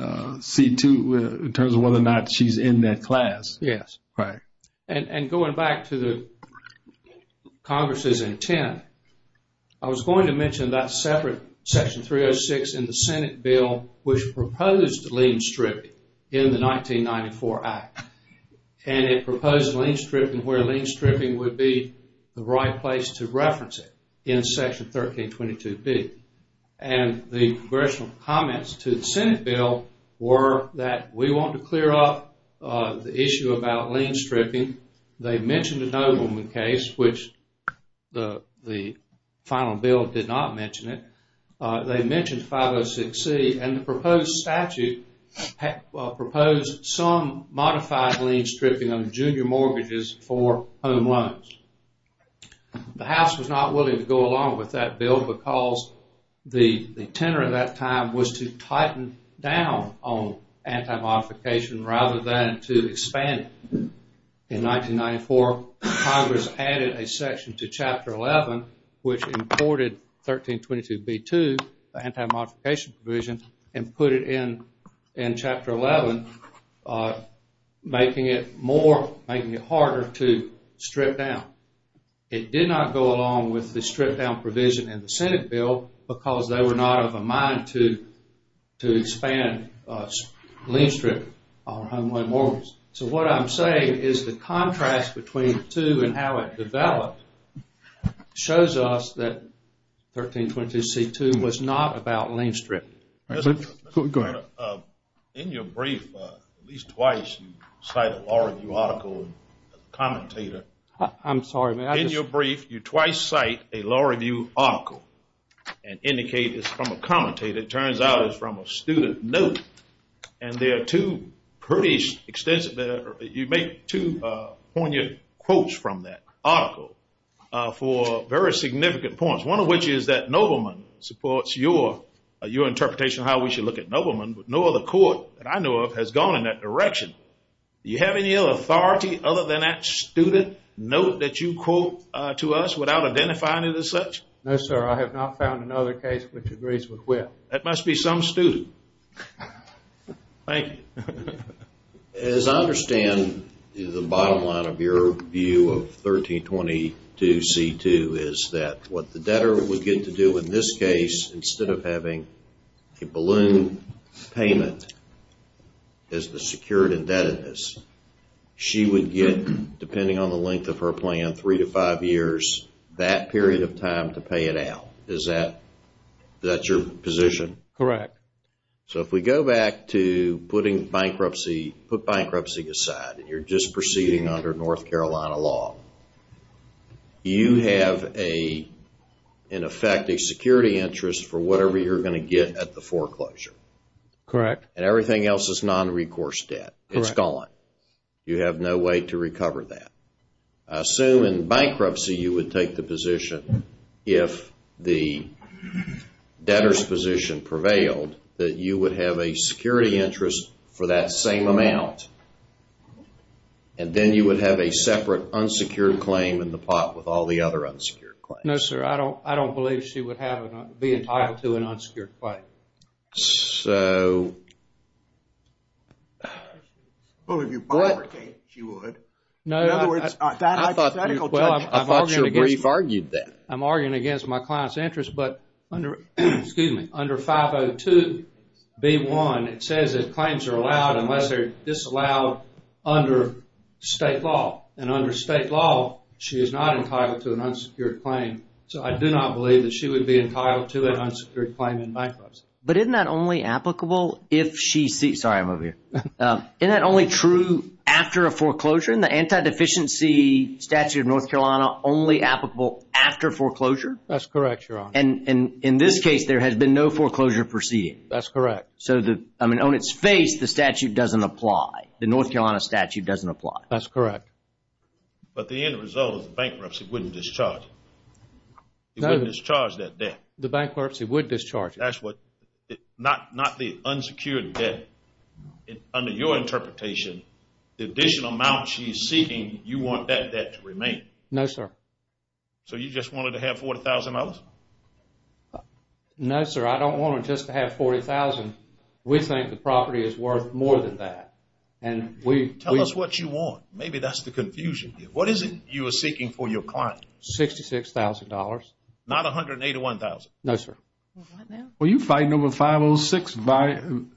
C2 in terms of whether or not she's in that class. Yes. Right. And going back to the Congress's intent, I was going to mention that separate Section 306 in the Senate bill which proposed lien stripping in the 1994 Act. And it proposed lien stripping where lien stripping would be the right place to reference in Section 1322 B. And the congressional comments to the Senate bill were that we want to clear up the issue about lien stripping. They mentioned the Nobleman case, which the final bill did not mention it. They mentioned 506 C, and the proposed statute proposed some modified lien stripping on junior mortgages for home loans. The House was not willing to go along with that bill because the intent at that time was to tighten down on anti-modification rather than to expand it. In 1994, Congress added a section to Chapter 11 which imported 1322 B2, the anti-modification provision, and put it in Chapter 11, making it more, making it harder to strip down. It did not go along with the strip down provision in the Senate bill because they were not of a mind to expand lien stripping on home loan mortgages. So what I'm saying is the contrast between the two and how it developed shows us that 1322 C2 was not about lien stripping. President, go ahead. In your brief, at least twice, you cite a law review article and commentator. I'm sorry. In your brief, you twice cite a law review article and indicate it's from a commentator. It turns out it's from a student note. And there are two pretty extensive, you make two poignant quotes from that article for very significant points, one of which is that Nobleman supports your interpretation of how we should look at Nobleman, but no other court that I know of has gone in that direction. Do you have any other authority other than that student note that you quote to us without identifying it as such? No, sir. I have not found another case which agrees with that. That must be some student. Thank you. As I understand, the bottom line of your view of 1322 C2 is that what the debtor would get to in this case, instead of having a balloon payment as the secured indebtedness, she would get, depending on the length of her plan, three to five years, that period of time to pay it out. Is that your position? Correct. So if we go back to putting bankruptcy, put bankruptcy aside, and you're just proceeding under North Carolina law, you have a, in effect, a security interest for whatever you're going to get at the foreclosure. Correct. And everything else is non-recourse debt. Correct. It's gone. You have no way to recover that. I assume in bankruptcy you would take the position, if the debtor's position prevailed, that you would have a security interest for that same amount, and then you would have a separate unsecured claim in the pot with all the other unsecured claims. No, sir. I don't believe she would be entitled to an unsecured claim. So... Well, if you're bankrupt, she would. No, I thought your brief argued that. I'm arguing against my client's interest, but under 502 B1, it says that claims are allowed unless they're disallowed under state law. And under state law, she is not entitled to an unsecured claim. So I do not believe that she would be entitled to an unsecured claim in bankruptcy. But isn't that only applicable if she sees... Sorry, I'm over here. Isn't that only true after a foreclosure? In the anti-deficiency statute of North Carolina, only applicable after foreclosure? That's correct, Your Honor. And in this case, there has been no foreclosure perceived. That's correct. So, I mean, on its face, the statute doesn't apply. The North Carolina statute doesn't apply. That's correct. But the end result is bankruptcy wouldn't discharge it. It wouldn't discharge that debt. The bankruptcy would discharge it. That's what... not the unsecured debt. Under your interpretation, the additional amount she's seeking, you want that debt to remain. No, sir. So you just wanted to have $40,000? No, sir. I don't want her just to have $40,000. We think the property is worth more than that. And we... Tell us what you want. Maybe that's the confusion here. What is it you are seeking for your client? $66,000. Not $181,000? No, sir. Well, you're fighting over 506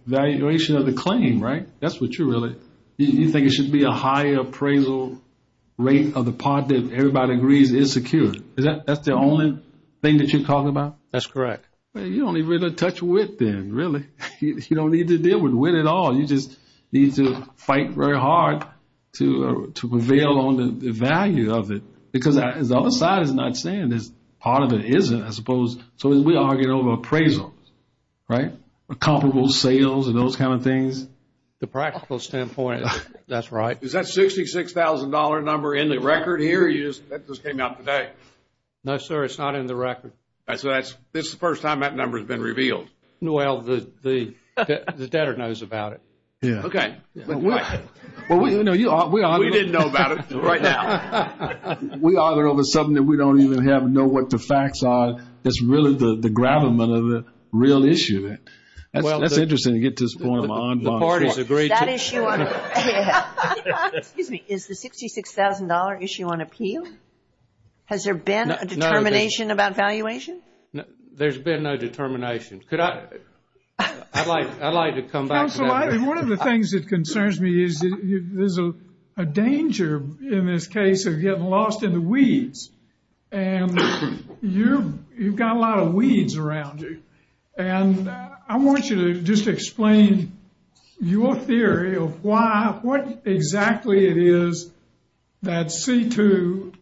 valuation of the claim, right? That's what you're really... You think it should be a high appraisal rate of the part that everybody agrees is secure. That's the only thing that you're talking about? That's correct. You don't even touch with them, really. You don't need to deal with it at all. You just need to fight very hard to prevail on the value of it. Because the other side is not saying that part of it isn't, I suppose. So we are arguing over appraisals, right? Comparable sales and those kind of things. The practical standpoint, that's right. Is that $66,000 number in the record here? No, sir. It's not in the record. It's the first time that number has been revealed. Well, the debtor knows about it. Yeah. Okay. Well, we didn't know about it right now. We are arguing over something that we don't even know what the facts are. That's really the gravamen of the real issue. That's interesting to get this going on. The parties agree. Is the $66,000 issue on appeal? Has there been a determination about valuation? There's been no determination. I'd like to come back to that. One of the things that concerns me is there's a danger in this case of getting lost in the weeds. And you've got a lot of weeds around you. And I want you to just explain your theory of why, what exactly it is that C2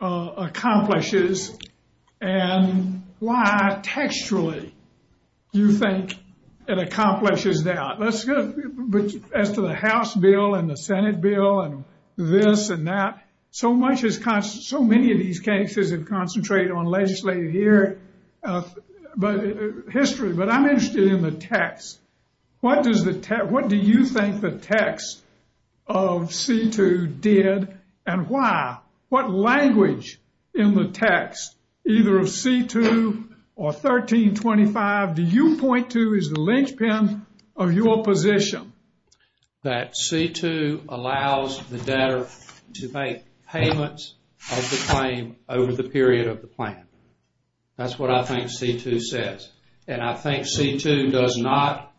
accomplishes and why textually you think it accomplishes that. As to the House bill and the Senate bill and this and that, so many of these cases have concentrated on legislative history. But I'm interested in the text. What do you think the text of C2 did and why? What language in the text, either of C2 or 1325, do you point to as the linchpin of your position? That C2 allows the debtor to make payments of the claim over the period of the plan. That's what I think C2 says. And I think C2 does not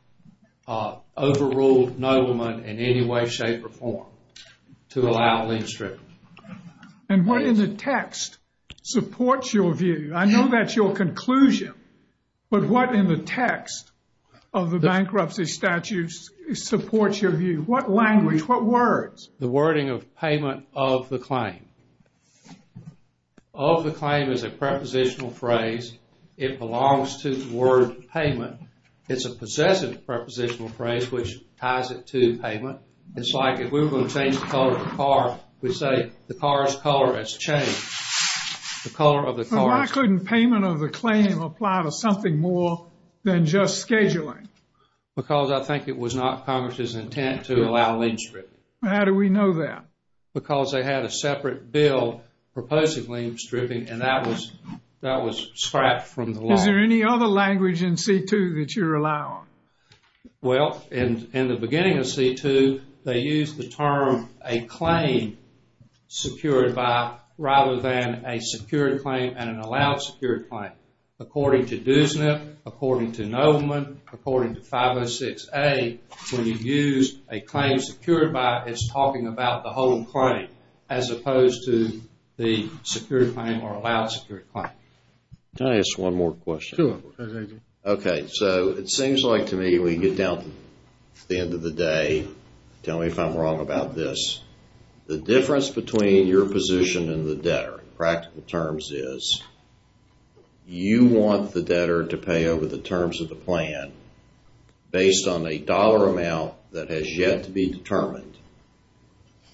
overrule nobleman in any way, shape, or form to allow a linchpin. And what in the text supports your view? I know that's your conclusion. But what in the text of the bankruptcy statute supports your view? What language? What words? The wording of payment of the claim. Of the claim is a prepositional phrase. It belongs to the word payment. It's a possessive prepositional phrase which ties it to payment. It's like if we were going to change the color of a car, we'd say the car's color has changed. But why couldn't payment of the claim apply to something more than just scheduling? Because I think it was not Congress's intent to allow linchpin. How do we know that? Because they had a separate bill proposing linchpin and that was scrapped from the law. Is there any other language in C2 that you're allowing? Well, in the beginning of C2, they used the term a claim secured by, rather than a secured claim and an allowed secured claim. According to DUSNIP, according to nobleman, according to 506A, when you use a claim secured by, it's talking about the home claim as opposed to the secured claim or allowed secured claim. Can I ask one more question? Okay, so it seems like to me when you get down to the end of the day, tell me if I'm wrong about this. The difference between your position and the debtor in practical terms is you want the debtor to pay over the terms of the plan based on a dollar amount that has yet to be determined.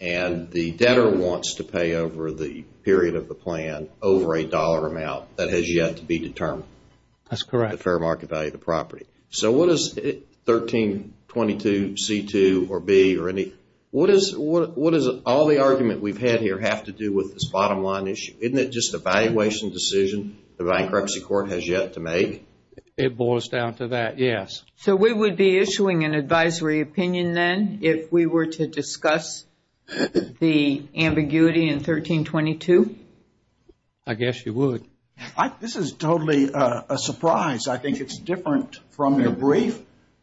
And the debtor wants to pay over the period of the plan over a dollar amount that has yet to be determined. That's correct. The fair market value of the property. So what does 1322 C2 or B or any, what does all the argument we've had here have to do with this bottom line issue? Isn't it just a valuation decision the bankruptcy court has yet to make? It boils down to that, yes. So we would be issuing an advisory opinion then if we were to discuss the ambiguity in 1322? I guess you would. This is totally a surprise. I think it's different from your brief.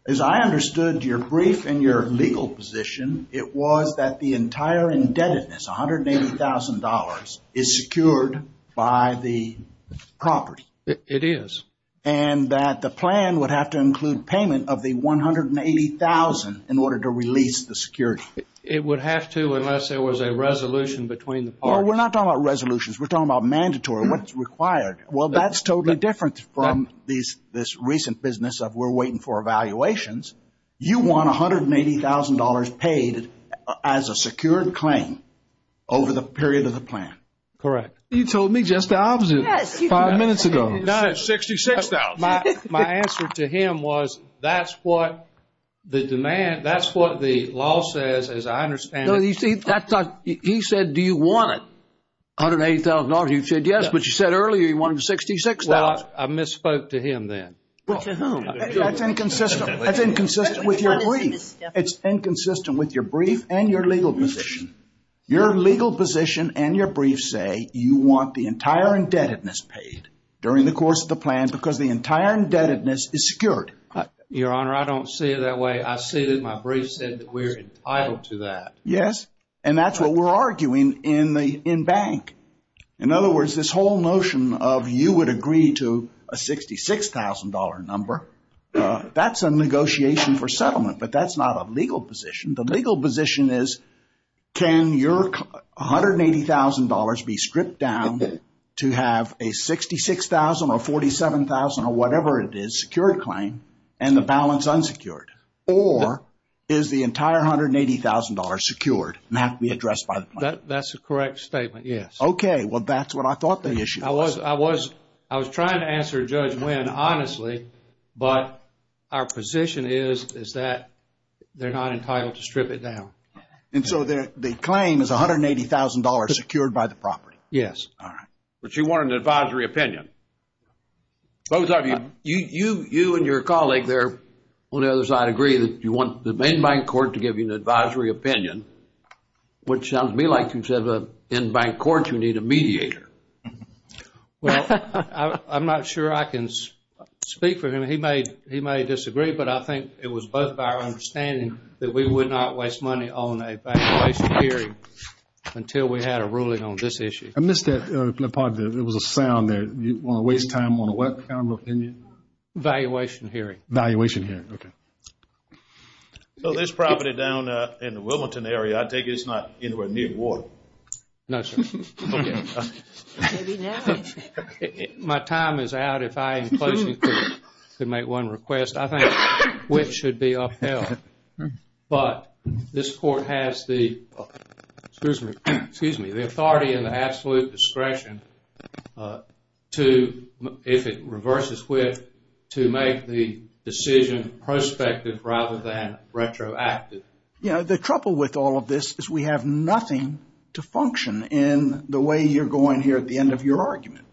As I understood your brief and your legal position, it was that the entire indebtedness, $180,000 is secured by the property. It is. And that the plan would have to include payment of the $180,000 in order to release the security. It would have to unless there was a resolution between the parties. We're not talking about resolutions. We're talking about mandatory. Well, that's totally different from this recent business of we're waiting for evaluations. You want $180,000 paid as a secured claim over the period of the plan. Correct. You told me just the opposite five minutes ago. My answer to him was that's what the demand, that's what the law says as I understand it. He said, do you want $180,000? You said yes, but you said earlier you wanted $66,000. Well, I misspoke to him then. Well, to whom? That's inconsistent. That's inconsistent with your brief. It's inconsistent with your brief and your legal position. Your legal position and your brief say you want the entire indebtedness paid during the course of the plan because the entire indebtedness is secured. Your Honor, I don't see it that way. I see that my brief said that we're entitled to that. Yes, and that's what we're arguing in bank. In other words, this whole notion of you would agree to a $66,000 number, that's a negotiation for settlement, but that's not a legal position. The legal position is can your $180,000 be stripped down to have a $66,000 or $47,000 or whatever it is secured claim and the balance unsecured, or is the entire $180,000 secured and have to be addressed by the plan? That's a correct statement, yes. Well, that's what I thought the issue was. I was trying to answer Judge Nguyen honestly, but our position is that they're not entitled to strip it down. And so the claim is $180,000 secured by the property? Yes. All right. But you want an advisory opinion. Both of you, you and your colleague there, on the other side, agree that you want the main bank court to give you an advisory opinion, which sounds to me like you said in bank court you need a mediator. Well, I'm not sure I can speak for him. He may disagree, but I think it was both of our understanding that we would not waste money on a valuation hearing until we had a ruling on this issue. I missed that part of it. It was a sound there. You want to waste time on a what kind of opinion? Valuation hearing. Valuation hearing, okay. So this property down in the Wilmington area, I take it it's not anywhere near water? No, sir. Okay, I'm sorry. Maybe not. My time is out if I am close enough to make one request. I think WIC should be upheld. But this court has the authority and the absolute discretion to, if it reverses WIC, to make the decision prospective rather than retroactive. You know, the trouble with all of this is we have nothing to function in the way you're going here at the end of your argument.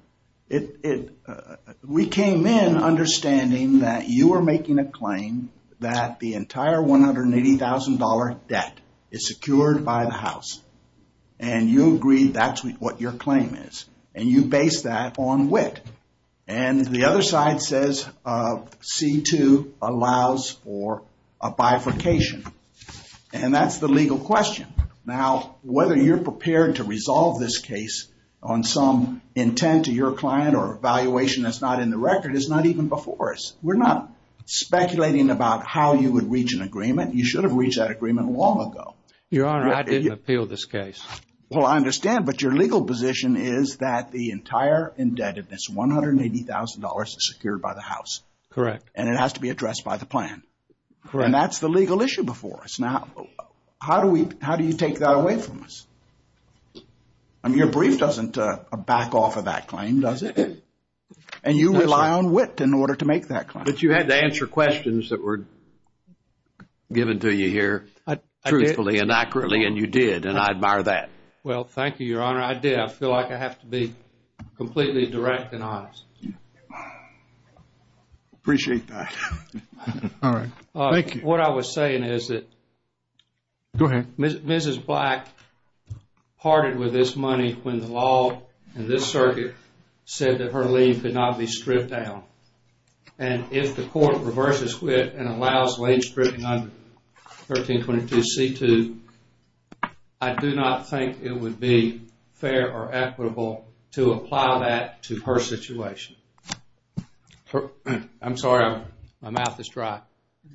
We came in understanding that you were making a claim that the entire $180,000 debt is secured by the house, and you agree that's what your claim is. And you base that on WIC. And the other side says C-2 allows for a bifurcation. And that's the legal question. Now, whether you're prepared to resolve this case on some intent to your client or a valuation that's not in the record is not even before us. We're not speculating about how you would reach an agreement. You should have reached that agreement long ago. You're right. I didn't appeal this case. Well, I understand. But your legal position is that the entire indebtedness, $180,000, is secured by the house. Correct. And it has to be addressed by the plan. And that's the legal issue before us. Now, how do you take that away from us? Your brief doesn't back off of that claim, does it? And you rely on WIC in order to make that claim. But you had to answer questions that were given to you here truthfully. And accurately. And you did. And I admire that. Well, thank you, Your Honor. I did. I feel like I have to be completely direct and honest. I appreciate that. All right. Thank you. What I was saying is that... Go ahead. Mrs. Black parted with this money when the law in this circuit said that her leave could not be stripped down. And if the court reverses with and allows leave stripped under 1322 C2, I do not think it would be fair or equitable to apply that to her situation. I'm sorry. My mouth is dry.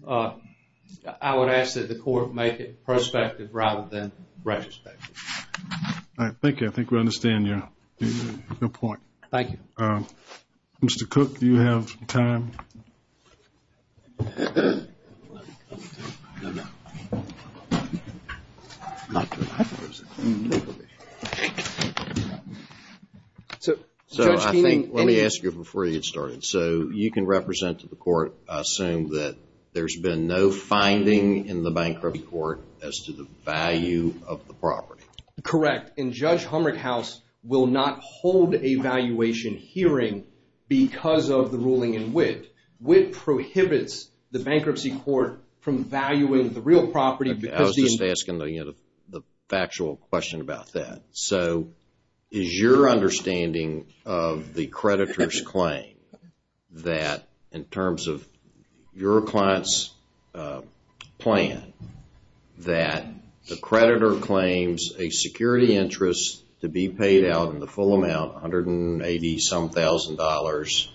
I would ask that the court make it prospective rather than retrospective. All right. Thank you. I think we understand your point. Thank you. Mr. Cook, do you have some time? So I think... Let me ask you before you get started. So you can represent to the court, assume that there's been no finding in the bankruptcy court as to the value of the property. Correct. And Judge Humrich House will not hold a valuation hearing because of the ruling in WIT. WIT prohibits the bankruptcy court from valuing the real property because... I was just asking the factual question about that. So is your understanding of the creditor's claim that in terms of your client's plan, that the creditor claims a security interest to be paid out in the full amount, 180 some thousand dollars,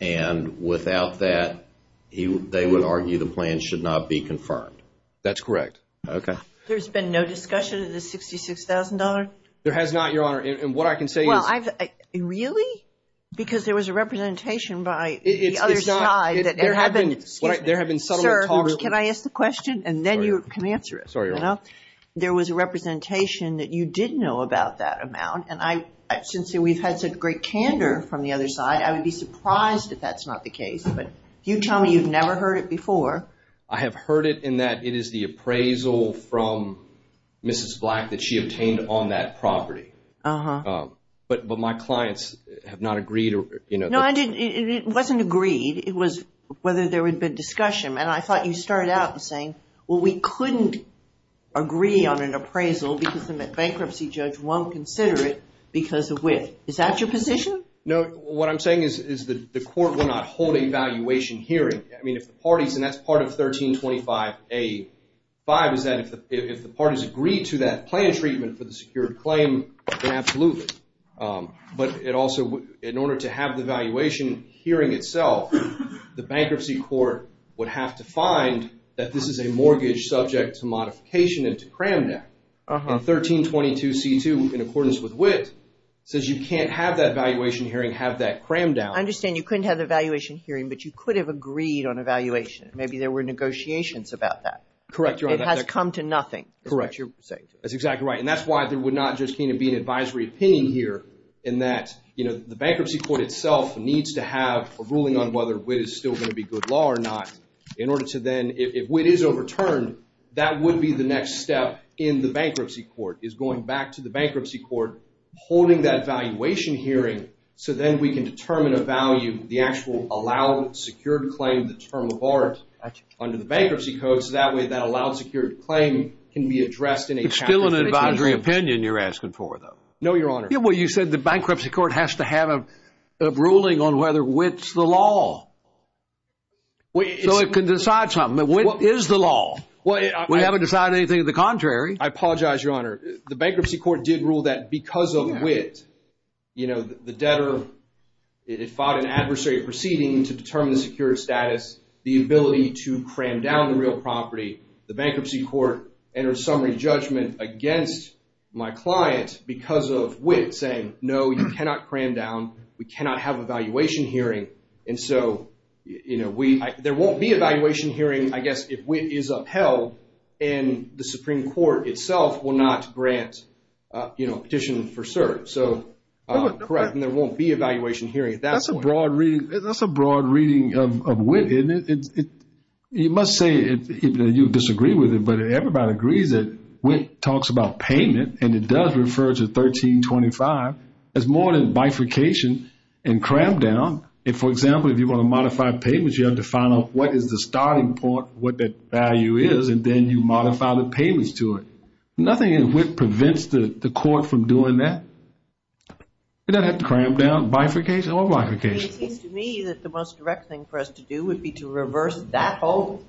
and without that, they would argue the plan should not be confirmed? That's correct. Okay. There's been no discussion of the $66,000? There has not, Your Honor. And what I can say is... Well, really? Because there was a representation by the other side that... There have been... Can I ask a question? And then you can answer it. There was a representation that you did know about that amount. And since we've had such great candor from the other side, I would be surprised if that's not the case. But you tell me you've never heard it before. I have heard it in that it is the appraisal from Mrs. Black that she obtained on that property. But my clients have not agreed. No, it wasn't agreed. It was whether there had been discussion. I thought you started out by saying, well, we couldn't agree on an appraisal because a bankruptcy judge won't consider it because of which. Is that your position? No. What I'm saying is the court will not hold a valuation hearing. I mean, if the parties... And that's part of 1325A5 is that if the parties agree to that plan treatment for the secured claim, then absolutely. But it also... have the valuation hearing itself. The bankruptcy court would have to find that this is a mortgage subject to modification and to cram down. And 1322C2, in accordance with WIT, says you can't have that valuation hearing, have that cram down. I understand you couldn't have the valuation hearing, but you could have agreed on a valuation. Maybe there were negotiations about that. Correct. It has come to nothing. Correct. That's exactly right. And that's why there would not just need to be an advisory opinion here in that, you know, bankruptcy court itself needs to have a ruling on whether WIT is still going to be good law or not in order to then... If WIT is overturned, that would be the next step in the bankruptcy court, is going back to the bankruptcy court, holding that valuation hearing, so then we can determine a value, the actual allowed secured claim, the term of art under the bankruptcy codes. That way, that allowed secured claim can be addressed in a... It's still an advisory opinion you're asking for, though. No, Your Honor. Well, you said the bankruptcy court has to have a ruling on whether WIT's the law. So it can decide something, but WIT is the law. We haven't decided anything of the contrary. I apologize, Your Honor. The bankruptcy court did rule that because of WIT, you know, the debtor, it fought an adversary proceeding to determine the secured status, the ability to cram down the real property. The bankruptcy court entered a summary judgment against my clients because of WIT saying, no, you cannot cram down. We cannot have a valuation hearing. And so, you know, there won't be a valuation hearing, I guess, if WIT is upheld and the Supreme Court itself will not grant, you know, a petition for cert. So, correct, and there won't be a valuation hearing at that point. That's a broad reading. That's a broad reading of WIT. And you must say that you disagree with it, but everybody agrees that WIT talks about payment, and it does refer to 1325, as more than bifurcation and cram down. If, for example, if you want to modify payments, you have to find out what is the starting point, what that value is, and then you modify the payments to it. Nothing in WIT prevents the court from doing that. It doesn't have cram down, bifurcation, or bifurcation. It seems to me that the most direct thing for us to do would be to reverse that vote.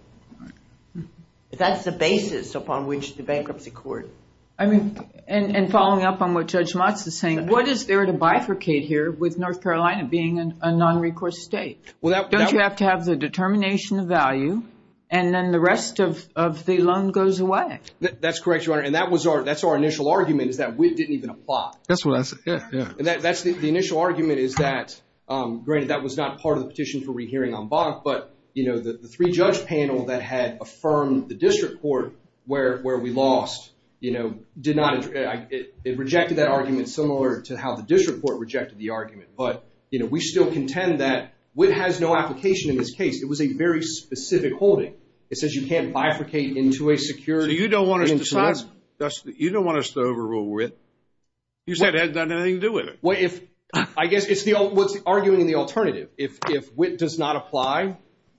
That's the basis upon which the bankruptcy court. I mean, and following up on what Judge Motz is saying, what is there to bifurcate here with North Carolina being a non-recourse state? Well, don't you have to have the determination of value, and then the rest of the loan goes away? That's correct, Your Honor, and that was our, that's our initial argument is that WIT didn't even apply. That's what, yeah, yeah. The initial argument is that, granted, that was not part of the petition for rehearing on BOTS, but, you know, the three-judge panel that had affirmed the district court where we lost, you know, did not, it rejected that argument similar to how the district court rejected the argument, but, you know, we still contend that WIT has no application in this case. It was a very specific holding. It says you can't bifurcate into a security. You don't want us to, you don't want us to overrule WIT. You said it has nothing to do with it. Well, if, I guess it's the, what's the argument in the alternative? If WIT does not apply,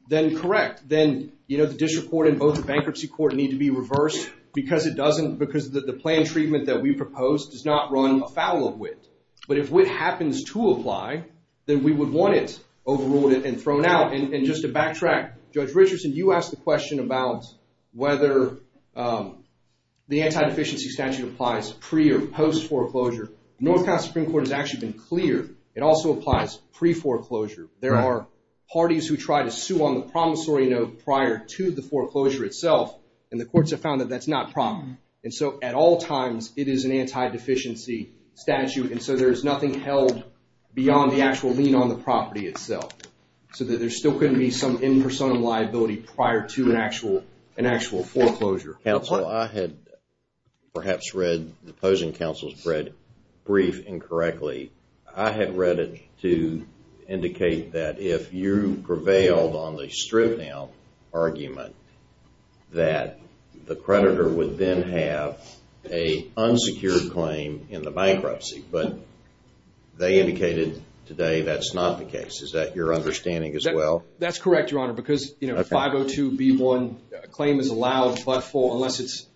then correct, then, you know, the district court and both the bankruptcy court need to be reversed because it doesn't, because the planned treatment that we proposed does not run afoul of WIT, but if WIT happens to apply, then we would want it overruled and thrown out, and just to backtrack, Judge Richardson, you asked a question about whether the anti-deficiency statute applies pre- or post-foreclosure. North Carolina Supreme Court has actually been clear. It also applies pre-foreclosure. There are parties who try to sue on the promissory note prior to the foreclosure itself, and the courts have found that that's not proper, and so at all times, it is an anti-deficiency statute, and so there is nothing held beyond the actual lien on the property itself, so there still couldn't be some in-person liability prior to an actual foreclosure. Counsel, I had perhaps read, the opposing counsel's read brief incorrectly. I had read it to indicate that if you prevailed on the strip-down argument, that the creditor would then have a unsecured claim in the bankruptcy, but they indicated today that's not the case. Is that your understanding as well? That's correct, Your Honor, because 502b1, a claim is allowed but for, unless it's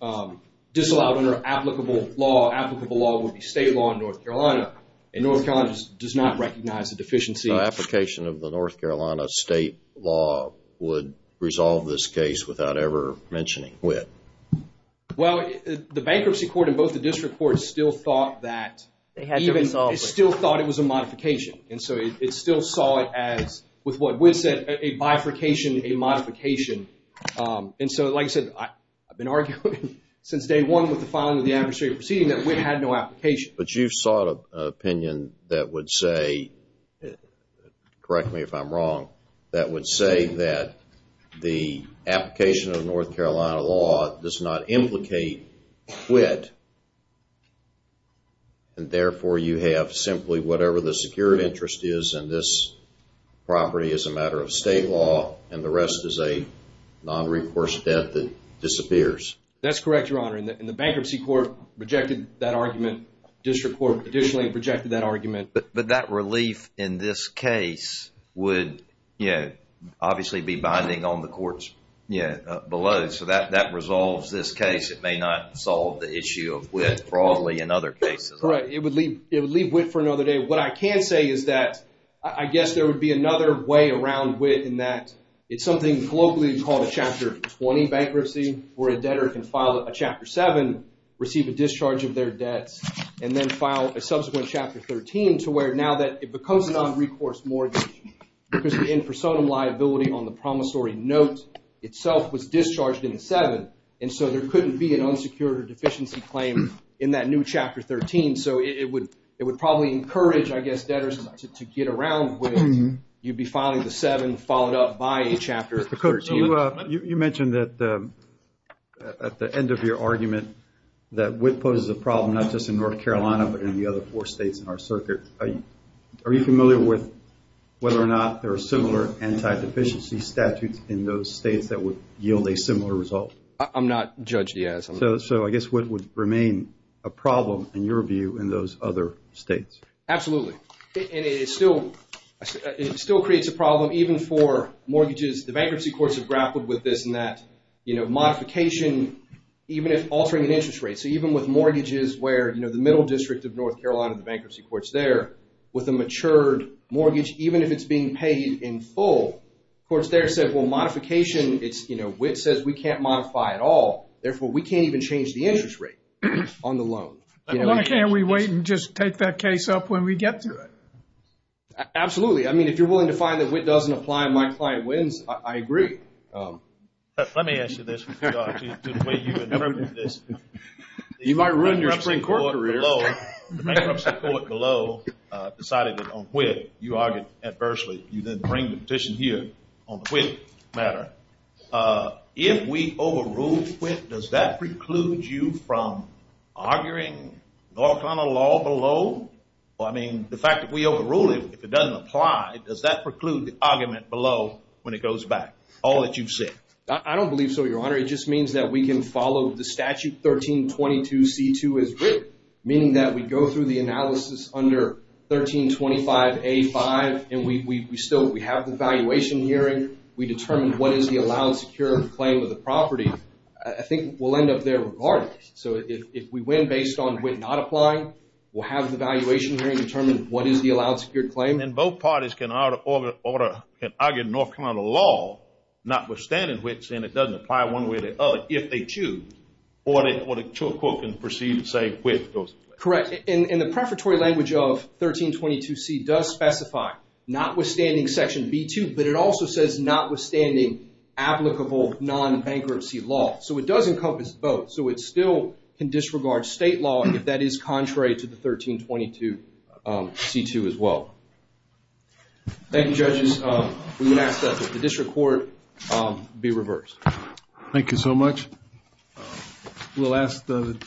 disallowed under applicable law, applicable law would be state law in North Carolina, and North Carolina does not recognize the deficiency. So application of the North Carolina state law would resolve this case without ever mentioning it? Well, the bankruptcy court and both the district courts still thought that, they still thought it was a modification, and so it still saw it as, with what Witt said, a bifurcation, a modification, and so like I said, I've been arguing since day one with the filing of the amnesty proceeding that Witt had no application. But you sought an opinion that would say, correct me if I'm wrong, that would say that the application of North Carolina law does not implicate Witt, and therefore you have simply whatever the security interest is in this property is a matter of state law, and the rest is a non-recourse debt that disappears. That's correct, Your Honor, and the bankruptcy court rejected that argument, district court additionally rejected that argument. But that relief in this case would obviously be binding on the courts below, so that resolves this case, it may not solve the issue of Witt, probably in other cases. It would leave Witt for another day. What I can say is that I guess there would be another way around Witt in that it's something colloquially called a Chapter 20 bankruptcy, where a debtor can file a Chapter 7, receive a discharge of their debt, and then file a subsequent Chapter 13 to where now that it becomes a non-recourse mortgage, because the in-persona liability on the promissory note itself was discharged in a 7, and so there couldn't be an unsecured deficiency claim in that new Chapter 13, so it would probably encourage, I guess, debtors to get around whether you'd be filing the 7 followed up by a Chapter 13. You mentioned at the end of your argument that Witt poses a problem not just in North Carolina, but in the other four states in our circuit. Are you familiar with whether or not there are similar anti-deficiency statutes in those states that would yield a similar result? I'm not, Judge, yes. So I guess Witt would remain a problem, in your view, in those other states. Absolutely, and it still creates a problem even for mortgages. The bankruptcy courts have grappled with this in that modification, even if altering an interest rate, so even with mortgages where the middle district of North Carolina, the bankruptcy courts there, with a matured mortgage, even if it's being paid in full, of course Witt there said, well, modification, Witt says we can't modify at all, therefore, we can't even change the interest rate on the loan. Why can't we wait and just take that case up when we get to it? Absolutely, I mean, if you're willing to find that Witt doesn't apply and my client wins, I agree. Let me answer this, because I think the way you interpret this, you might ruin your bankruptcy court career. The bankruptcy court below decided that on Witt, you argued adversely. You then bring the petition here on Witt matter. If we overrule Witt, does that preclude you from arguing North Carolina law below? Well, I mean, the fact that we overrule it, if it doesn't apply, does that preclude the argument below when it goes back? All that you've said. I don't believe so, Your Honor. It just means that we can follow the statute 1322C2 as Witt, meaning that we go through the analysis under 1325A5, and we still have an evaluation hearing. We determine what is the allowed, secured claim of the property. I think we'll end up there regardless. So if we win based on Witt not applying, we'll have an evaluation hearing to determine what is the allowed, secured claim. And both parties can argue North Carolina law, notwithstanding Witt, saying it doesn't apply one way or the other, if they choose, or the court can proceed and say Witt does. Correct. And the preparatory language of 1322C does specify, notwithstanding section B2, but it also says notwithstanding applicable non-bankruptcy law. So it does encompass both. So it still can disregard state law, but that is contrary to the 1322C2 as well. Thank you, judges. The district court be reversed. Thank you so much. We'll ask the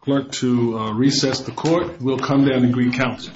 court to recess the court. We'll come back and re-counsel.